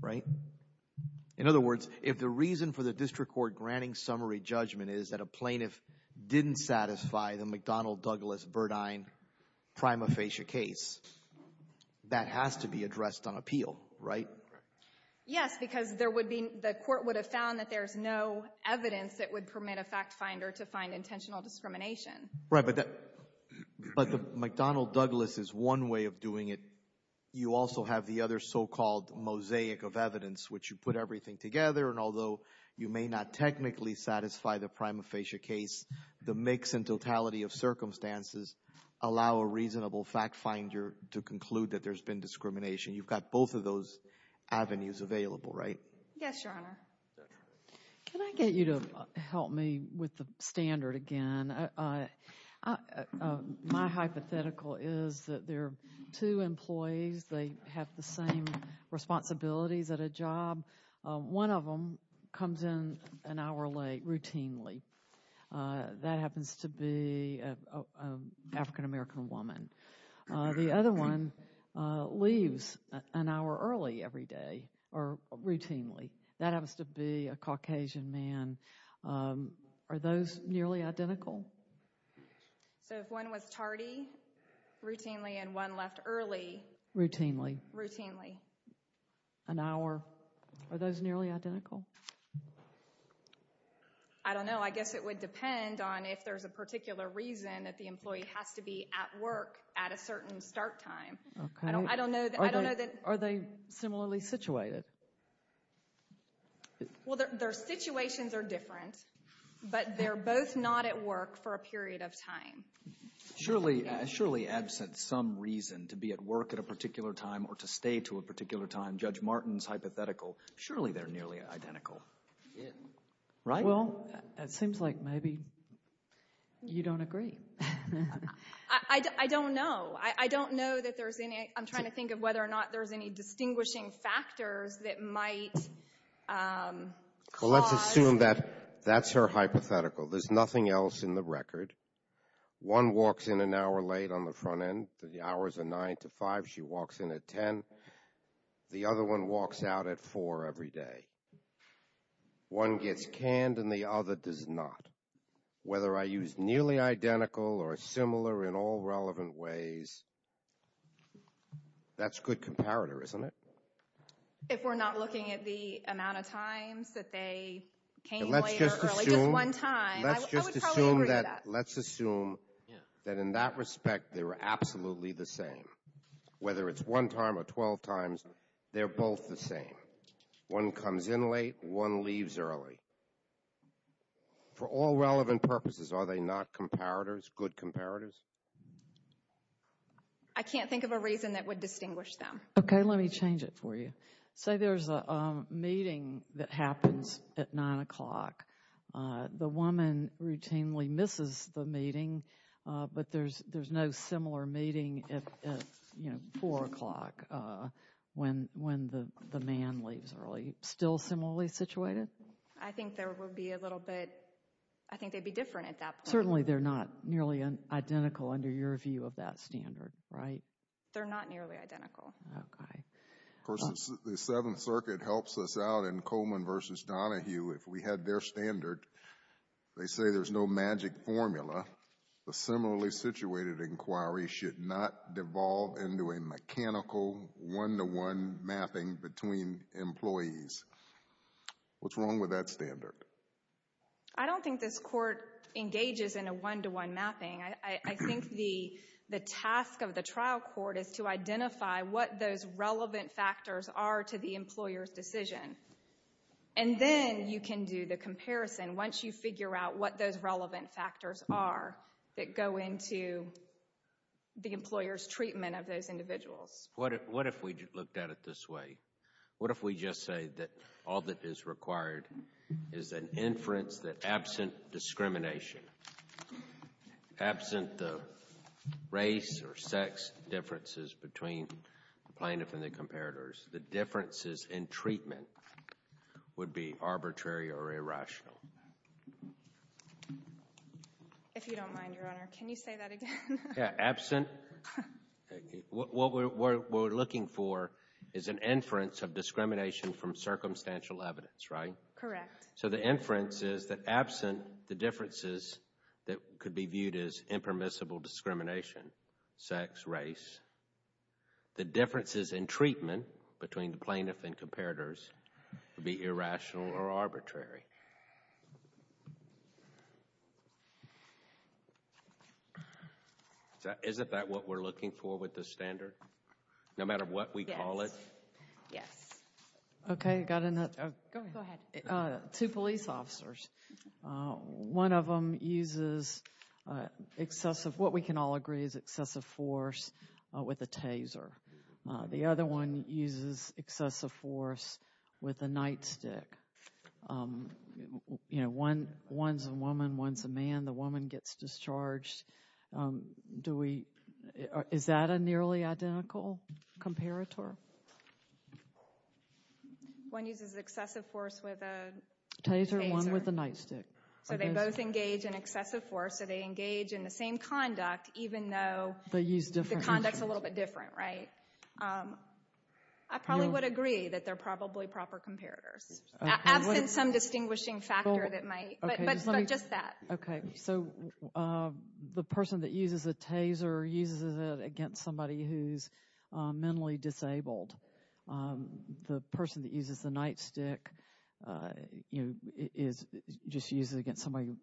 right? In other words, if the reason for the district court granting summary judgment is that a plaintiff didn't satisfy the McDonald-Douglas-Verdine prima facie case, that has to be addressed on appeal, right? Yes, because there would be the court would have found that there's no evidence that would permit a fact finder to find intentional discrimination. Right, but the McDonald-Douglas is one way of doing it. You also have the other so-called mosaic of evidence, which you put everything together, and although you may not technically satisfy the prima facie case, the mix and totality of circumstances allow a reasonable fact finder to conclude that there's been discrimination. You've got both of those avenues available, right? Yes, Your Honor. Can I get you to help me with the standard again? My hypothetical is that there are two employees. They have the same responsibilities at a job. One of them comes in an hour late routinely. That happens to be an African-American woman. The other one leaves an hour early every day or routinely. That happens to be a Caucasian man. Are those nearly identical? So if one was tardy routinely and one left early? Routinely. Routinely. An hour. Are those nearly identical? I don't know. I guess it would depend on if there's a particular reason that the employee has to be at work at a certain start time. I don't know. Are they similarly situated? Well, their situations are different, but they're both not at work for a period of time. Surely absent some reason to be at work at a particular time or to stay to a particular time, Judge Martin's hypothetical, surely they're nearly identical, right? Well, it seems like maybe you don't agree. I don't know. I don't know that there's any ‑‑ I'm trying to think of whether or not there's any distinguishing factors that might cause. Well, let's assume that that's her hypothetical. There's nothing else in the record. One walks in an hour late on the front end. The hours are 9 to 5. She walks in at 10. The other one walks out at 4 every day. One gets canned and the other does not. Whether I use nearly identical or similar in all relevant ways, that's good comparator, isn't it? If we're not looking at the amount of times that they came later or just one time, I would probably agree with that. Let's just assume that in that respect they were absolutely the same. Whether it's one time or 12 times, they're both the same. One comes in late. One leaves early. For all relevant purposes, are they not comparators, good comparators? I can't think of a reason that would distinguish them. Okay. Let me change it for you. Say there's a meeting that happens at 9 o'clock. The woman routinely misses the meeting, but there's no similar meeting at, you know, 4 o'clock when the man leaves early. Still similarly situated? I think there would be a little bit. I think they'd be different at that point. Certainly they're not nearly identical under your view of that standard, right? They're not nearly identical. Okay. Of course, the Seventh Circuit helps us out in Coleman v. Donahue. If we had their standard, they say there's no magic formula. A similarly situated inquiry should not devolve into a mechanical one-to-one mapping between employees. What's wrong with that standard? I don't think this court engages in a one-to-one mapping. I think the task of the trial court is to identify what those relevant factors are to the employer's decision. And then you can do the comparison once you figure out what those relevant factors are that go into the employer's treatment of those individuals. What if we looked at it this way? What if we just say that all that is required is an inference that absent discrimination, absent the race or sex differences between the plaintiff and the comparators, the differences in treatment would be arbitrary or irrational? If you don't mind, Your Honor, can you say that again? Yeah, absent. What we're looking for is an inference of discrimination from circumstantial evidence, right? Correct. So the inference is that absent the differences that could be viewed as impermissible discrimination, sex, race, the differences in treatment between the plaintiff and comparators would be irrational or arbitrary. Isn't that what we're looking for with the standard? Yes. No matter what we call it? Yes. Okay. Go ahead. Two police officers. One of them uses excessive, what we can all agree is excessive force with a taser. The other one uses excessive force with a nightstick. You know, one's a woman, one's a man. The woman gets discharged. Is that a nearly identical comparator? One uses excessive force with a taser. One with a nightstick. So they both engage in excessive force. So they engage in the same conduct even though the conduct's a little bit different, right? I probably would agree that they're probably proper comparators. Absent some distinguishing factor that might, but just that. Okay. So the person that uses a taser uses it against somebody who's mentally disabled. The person that uses the nightstick just uses it against somebody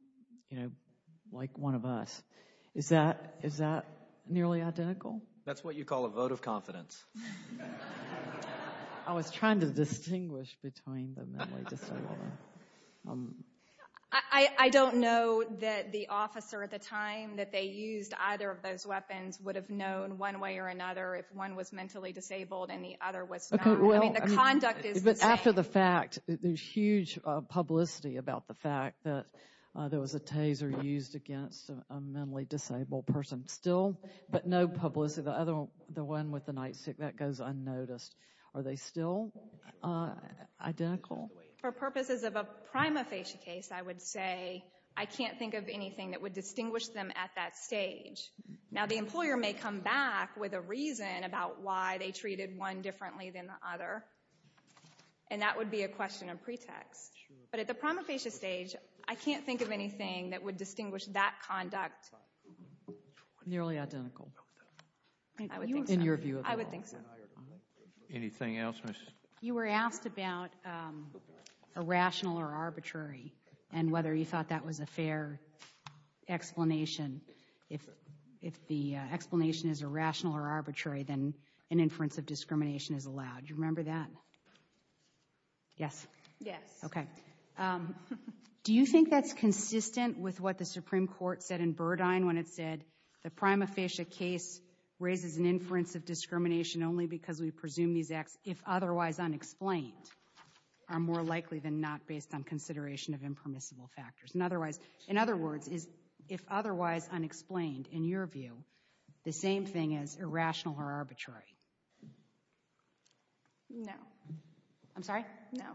like one of us. Is that nearly identical? That's what you call a vote of confidence. I was trying to distinguish between the mentally disabled. I don't know that the officer at the time that they used either of those weapons would have known one way or another if one was mentally disabled and the other was not. I mean, the conduct is the same. But after the fact, there's huge publicity about the fact that there was a taser used against a mentally disabled person. Still, but no publicity. The one with the nightstick, that goes unnoticed. Are they still identical? For purposes of a prima facie case, I would say, I can't think of anything that would distinguish them at that stage. Now, the employer may come back with a reason about why they treated one differently than the other, and that would be a question of pretext. But at the prima facie stage, I can't think of anything that would distinguish that conduct. Nearly identical. I would think so. In your view at all. I would think so. Anything else? You were asked about irrational or arbitrary and whether you thought that was a fair explanation. If the explanation is irrational or arbitrary, then an inference of discrimination is allowed. Do you remember that? Yes? Yes. Okay. Do you think that's consistent with what the Supreme Court said in Burdine when it said, the prima facie case raises an inference of discrimination only because we presume these acts, if otherwise unexplained, are more likely than not based on consideration of impermissible factors. In other words, if otherwise unexplained, in your view, the same thing as irrational or arbitrary. No. I'm sorry? No.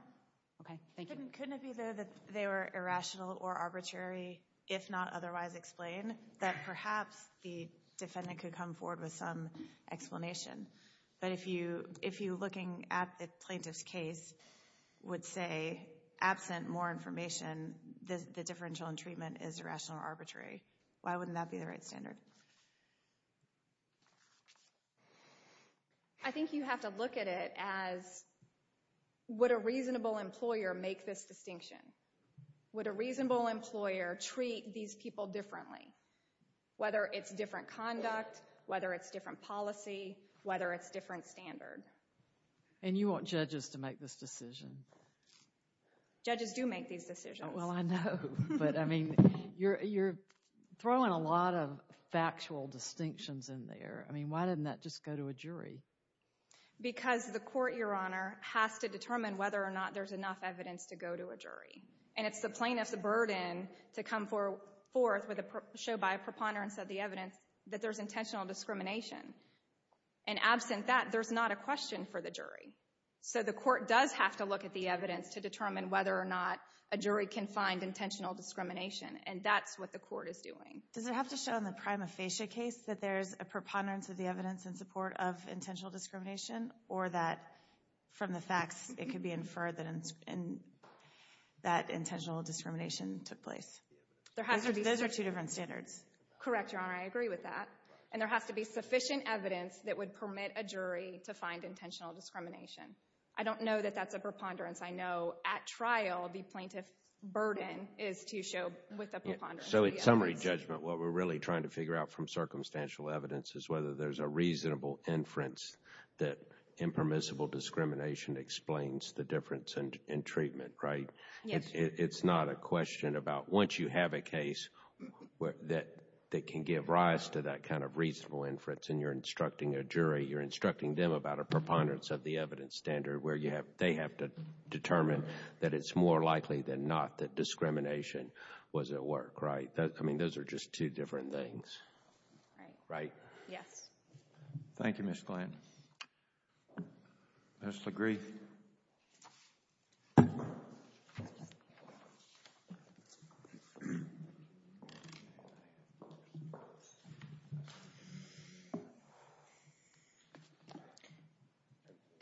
Okay. Thank you. Couldn't it be, though, that they were irrational or arbitrary if not otherwise explained, that perhaps the defendant could come forward with some explanation. But if you, looking at the plaintiff's case, would say, absent more information, the differential in treatment is irrational or arbitrary, why wouldn't that be the right standard? I think you have to look at it as, would a reasonable employer make this distinction? Would a reasonable employer treat these people differently, whether it's different conduct, whether it's different policy, whether it's different standard? And you want judges to make this decision? Judges do make these decisions. Well, I know. But, I mean, you're throwing a lot of factual distinctions in there. I mean, why didn't that just go to a jury? Because the court, Your Honor, has to determine whether or not there's enough evidence to go to a jury. And it's the plaintiff's burden to come forth with a show by a preponderance of the evidence that there's intentional discrimination. And absent that, there's not a question for the jury. So the court does have to look at the evidence to determine whether or not a jury can find intentional discrimination. And that's what the court is doing. Does it have to show in the prima facie case that there's a preponderance of the evidence in support of intentional discrimination, or that from the facts it could be inferred that intentional discrimination took place? Those are two different standards. Correct, Your Honor. I agree with that. And there has to be sufficient evidence that would permit a jury to find intentional discrimination. I don't know that that's a preponderance. I know at trial the plaintiff's burden is to show with a preponderance of the evidence. So in summary judgment, what we're really trying to figure out from circumstantial evidence is whether there's a reasonable inference that impermissible discrimination explains the difference in treatment, right? Yes, Your Honor. It's not a question about once you have a case that can give rise to that kind of reasonable inference and you're instructing a jury, you're instructing them about a preponderance of the evidence standard where they have to determine that it's more likely than not that discrimination was at work, right? I mean, those are just two different things. Right? Yes. Thank you, Ms. Glenn. I just agree.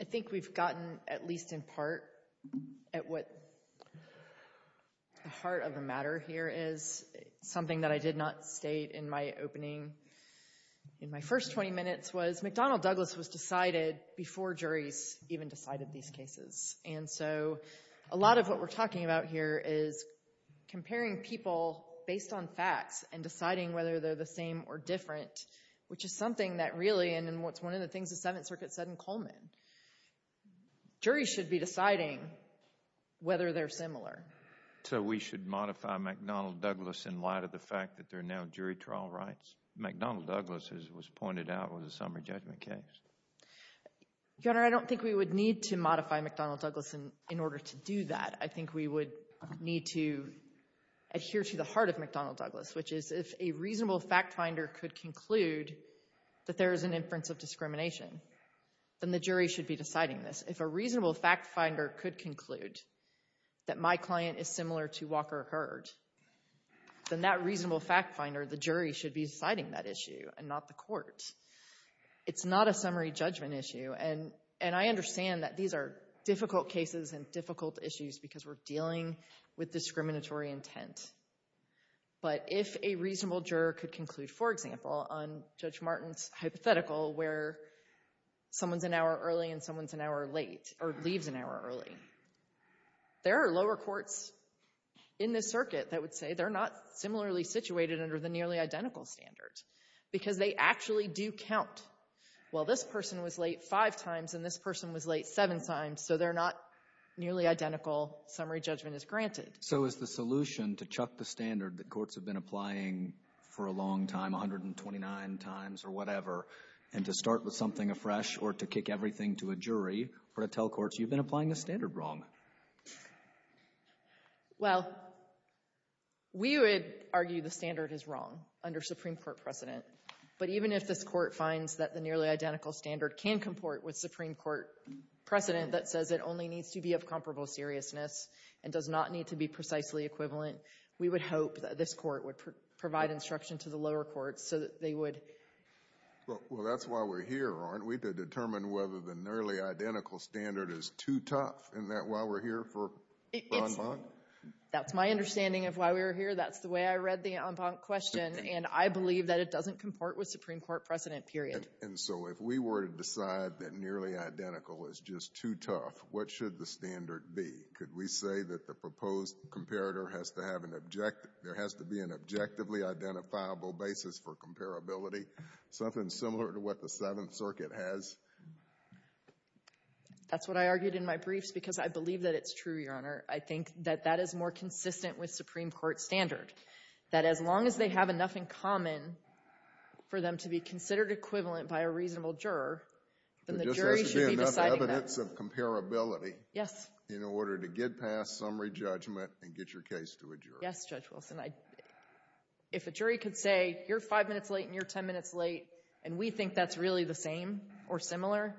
I think we've gotten at least in part at what the heart of the matter here is. Something that I did not state in my opening, in my first 20 minutes, was McDonnell Douglas was decided before juries even decided these cases. And so a lot of what we're talking about here is comparing people based on facts and deciding whether they're the same or different, which is something that really and what's one of the things the Seventh Circuit said in Coleman. Juries should be deciding whether they're similar. So we should modify McDonnell Douglas in light of the fact that there are now jury trial rights? McDonnell Douglas, as it was pointed out, was a summary judgment case. Your Honor, I don't think we would need to modify McDonnell Douglas in order to do that. I think we would need to adhere to the heart of McDonnell Douglas, which is if a reasonable fact finder could conclude that there is an inference of discrimination, then the jury should be deciding this. If a reasonable fact finder could conclude that my client is similar to Walker Hurd, then that reasonable fact finder, the jury, should be deciding that issue and not the court. It's not a summary judgment issue, and I understand that these are difficult cases and difficult issues because we're dealing with discriminatory intent. But if a reasonable juror could conclude, for example, on Judge Martin's hypothetical where someone's an hour early and someone's an hour late or leaves an hour early, there are lower courts in this circuit that would say they're not similarly situated under the nearly identical standard because they actually do count. Well, this person was late five times and this person was late seven times, so they're not nearly identical summary judgment is granted. So is the solution to chuck the standard that courts have been applying for a long time, 129 times or whatever, and to start with something afresh or to kick everything to a jury or to tell courts you've been applying the standard wrong? Well, we would argue the standard is wrong under Supreme Court precedent. But even if this Court finds that the nearly identical standard can comport with Supreme Court precedent that says it only needs to be of comparable seriousness and does not need to be precisely equivalent, we would hope that this Court would provide instruction to the lower courts so that they would. Well, that's why we're here, aren't we, to determine whether the nearly identical standard is too tough, isn't that why we're here for en banc? That's my understanding of why we're here. That's the way I read the en banc question. And I believe that it doesn't comport with Supreme Court precedent, period. And so if we were to decide that nearly identical is just too tough, what should the standard be? Could we say that the proposed comparator has to have an objective, there has to be an objectively identifiable basis for comparability, something similar to what the Seventh Circuit has? That's what I argued in my briefs because I believe that it's true, Your Honor. I think that that is more consistent with Supreme Court standard, that as long as they have enough in common for them to be considered equivalent by a reasonable juror, then the jury should be deciding that. Yes. In order to get past summary judgment and get your case to a jury. Yes, Judge Wilson. If a jury could say you're five minutes late and you're ten minutes late and we think that's really the same or similar,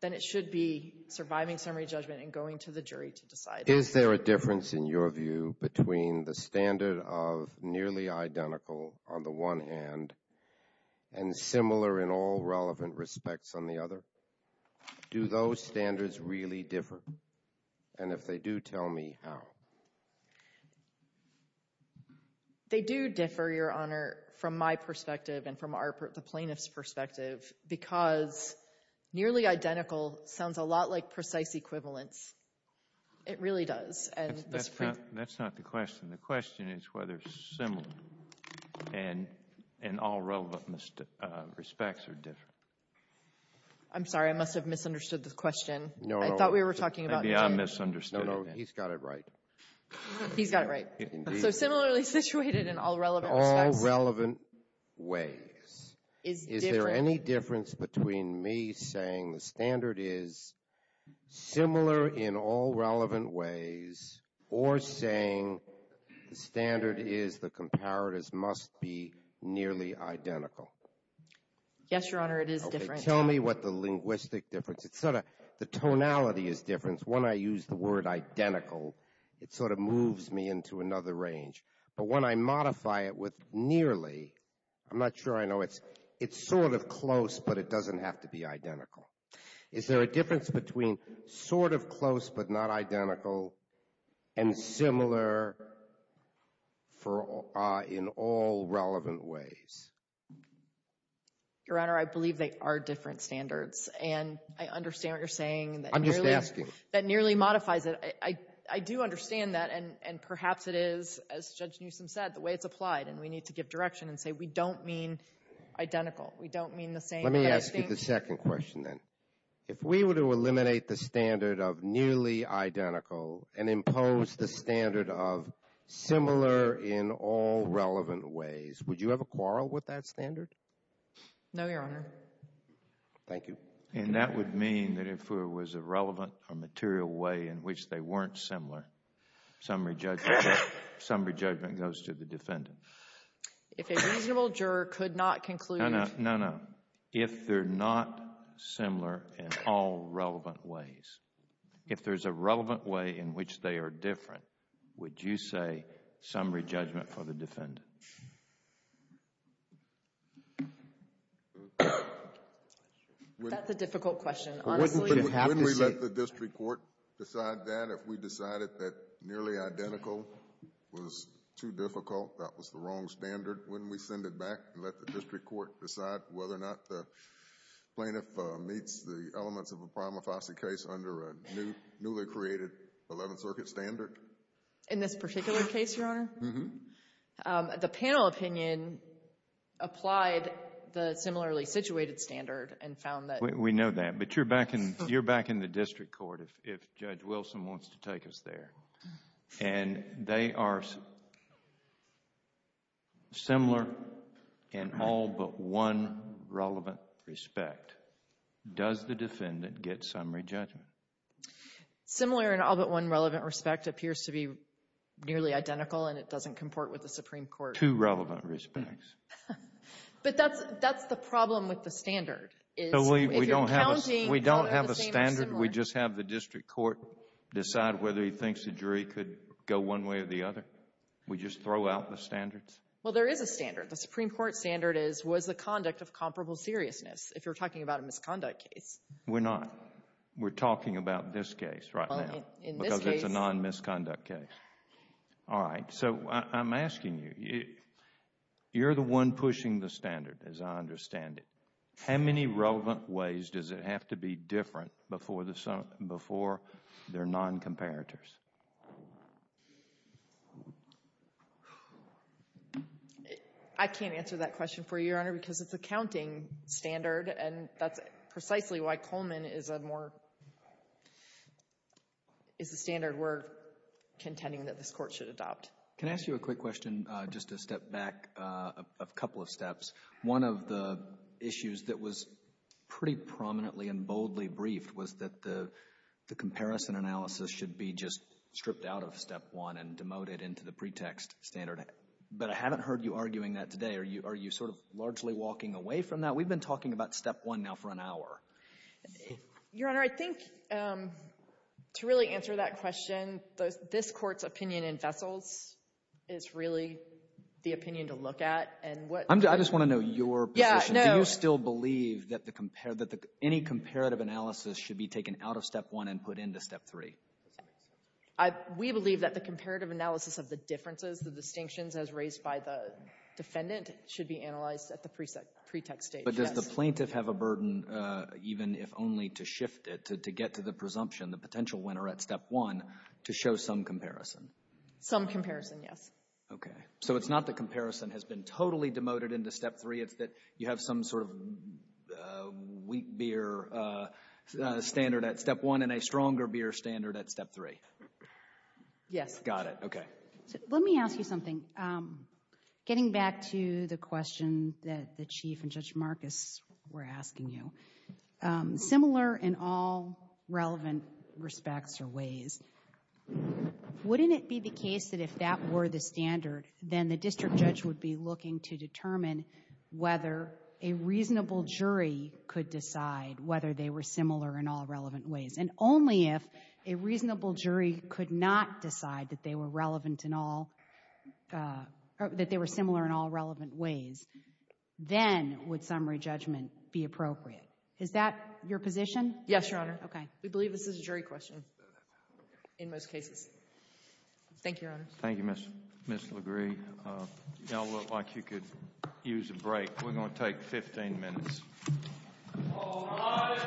then it should be surviving summary judgment and going to the jury to decide that. Is there a difference in your view between the standard of nearly identical on the one hand and similar in all relevant respects on the other? Do those standards really differ? And if they do, tell me how. They do differ, Your Honor, from my perspective and from the plaintiff's perspective because nearly identical sounds a lot like precise equivalence. It really does. That's not the question. The question is whether similar in all relevant respects or different. I'm sorry. I must have misunderstood the question. No. I thought we were talking about it. Maybe I misunderstood it. No, no. He's got it right. He's got it right. So similarly situated in all relevant respects. All relevant ways. Is there any difference between me saying the standard is similar in all relevant ways or saying the standard is the comparatives must be nearly identical? Yes, Your Honor. It is different. Tell me what the linguistic difference is. The tonality is different. When I use the word identical, it sort of moves me into another range. But when I modify it with nearly, I'm not sure I know. It's sort of close, but it doesn't have to be identical. Is there a difference between sort of close but not identical and similar in all relevant ways? Your Honor, I believe they are different standards. And I understand what you're saying. I'm just asking. That nearly modifies it. I do understand that. And perhaps it is, as Judge Newsom said, the way it's applied. And we need to give direction and say we don't mean identical. We don't mean the same kind of thing. Let me ask you the second question then. If we were to eliminate the standard of nearly identical and impose the standard of similar in all relevant ways, would you have a quarrel with that standard? No, Your Honor. Thank you. And that would mean that if there was a relevant or material way in which they weren't similar, some re-judgment goes to the defendant. If a reasonable juror could not conclude. No, no, no, no. If they're not similar in all relevant ways, if there's a relevant way in which they are different, would you say some re-judgment for the defendant? That's a difficult question. Honestly, you'd have to say. Wouldn't we let the district court decide that if we decided that nearly identical was too difficult? That was the wrong standard. Wouldn't we send it back and let the district court decide whether or not the plaintiff meets the elements of a prima facie case under a newly created Eleventh Circuit standard? In this particular case, Your Honor? Uh-huh. The panel opinion applied the similarly situated standard and found that. We know that, but you're back in the district court if Judge Wilson wants to take us there. And they are similar in all but one relevant respect. Does the defendant get summary judgment? Similar in all but one relevant respect appears to be nearly identical and it doesn't comport with the Supreme Court. Two relevant respects. But that's the problem with the standard. We don't have a standard. Shouldn't we just have the district court decide whether he thinks the jury could go one way or the other? We just throw out the standards? Well, there is a standard. The Supreme Court standard is, was the conduct of comparable seriousness if you're talking about a misconduct case? We're not. We're talking about this case right now. In this case. Because it's a non-misconduct case. All right. So I'm asking you, you're the one pushing the standard as I understand it. How many relevant ways does it have to be different before there are non-comparators? I can't answer that question for you, Your Honor, because it's a counting standard and that's precisely why Coleman is a more, is a standard we're contending that this court should adopt. Can I ask you a quick question, just to step back a couple of steps? One of the issues that was pretty prominently and boldly briefed was that the comparison analysis should be just stripped out of Step 1 and demoted into the pretext standard. But I haven't heard you arguing that today. Are you sort of largely walking away from that? We've been talking about Step 1 now for an hour. Your Honor, I think to really answer that question, this court's opinion in vessels is really the opinion to look at. I just want to know your position. Do you still believe that any comparative analysis should be taken out of Step 1 and put into Step 3? We believe that the comparative analysis of the differences, the distinctions as raised by the defendant, should be analyzed at the pretext stage. But does the plaintiff have a burden, even if only to shift it, to get to the presumption, the potential winner at Step 1, to show some comparison? Some comparison, yes. Okay, so it's not that comparison has been totally demoted into Step 3. It's that you have some sort of weak beer standard at Step 1 and a stronger beer standard at Step 3. Yes. Got it, okay. Let me ask you something. Getting back to the question similar in all relevant respects or ways, wouldn't it be the case that if that were the standard, then the district judge would be looking to determine whether a reasonable jury could decide whether they were similar in all relevant ways? And only if a reasonable jury could not decide that they were relevant in all... that they were similar in all relevant ways, then would summary judgment be appropriate. Is that your position? Yes, Your Honor. Okay. We believe this is a jury question in most cases. Thank you, Your Honor. Thank you, Ms. LaGrie. Y'all look like you could use a break. We're going to take 15 minutes. All rise.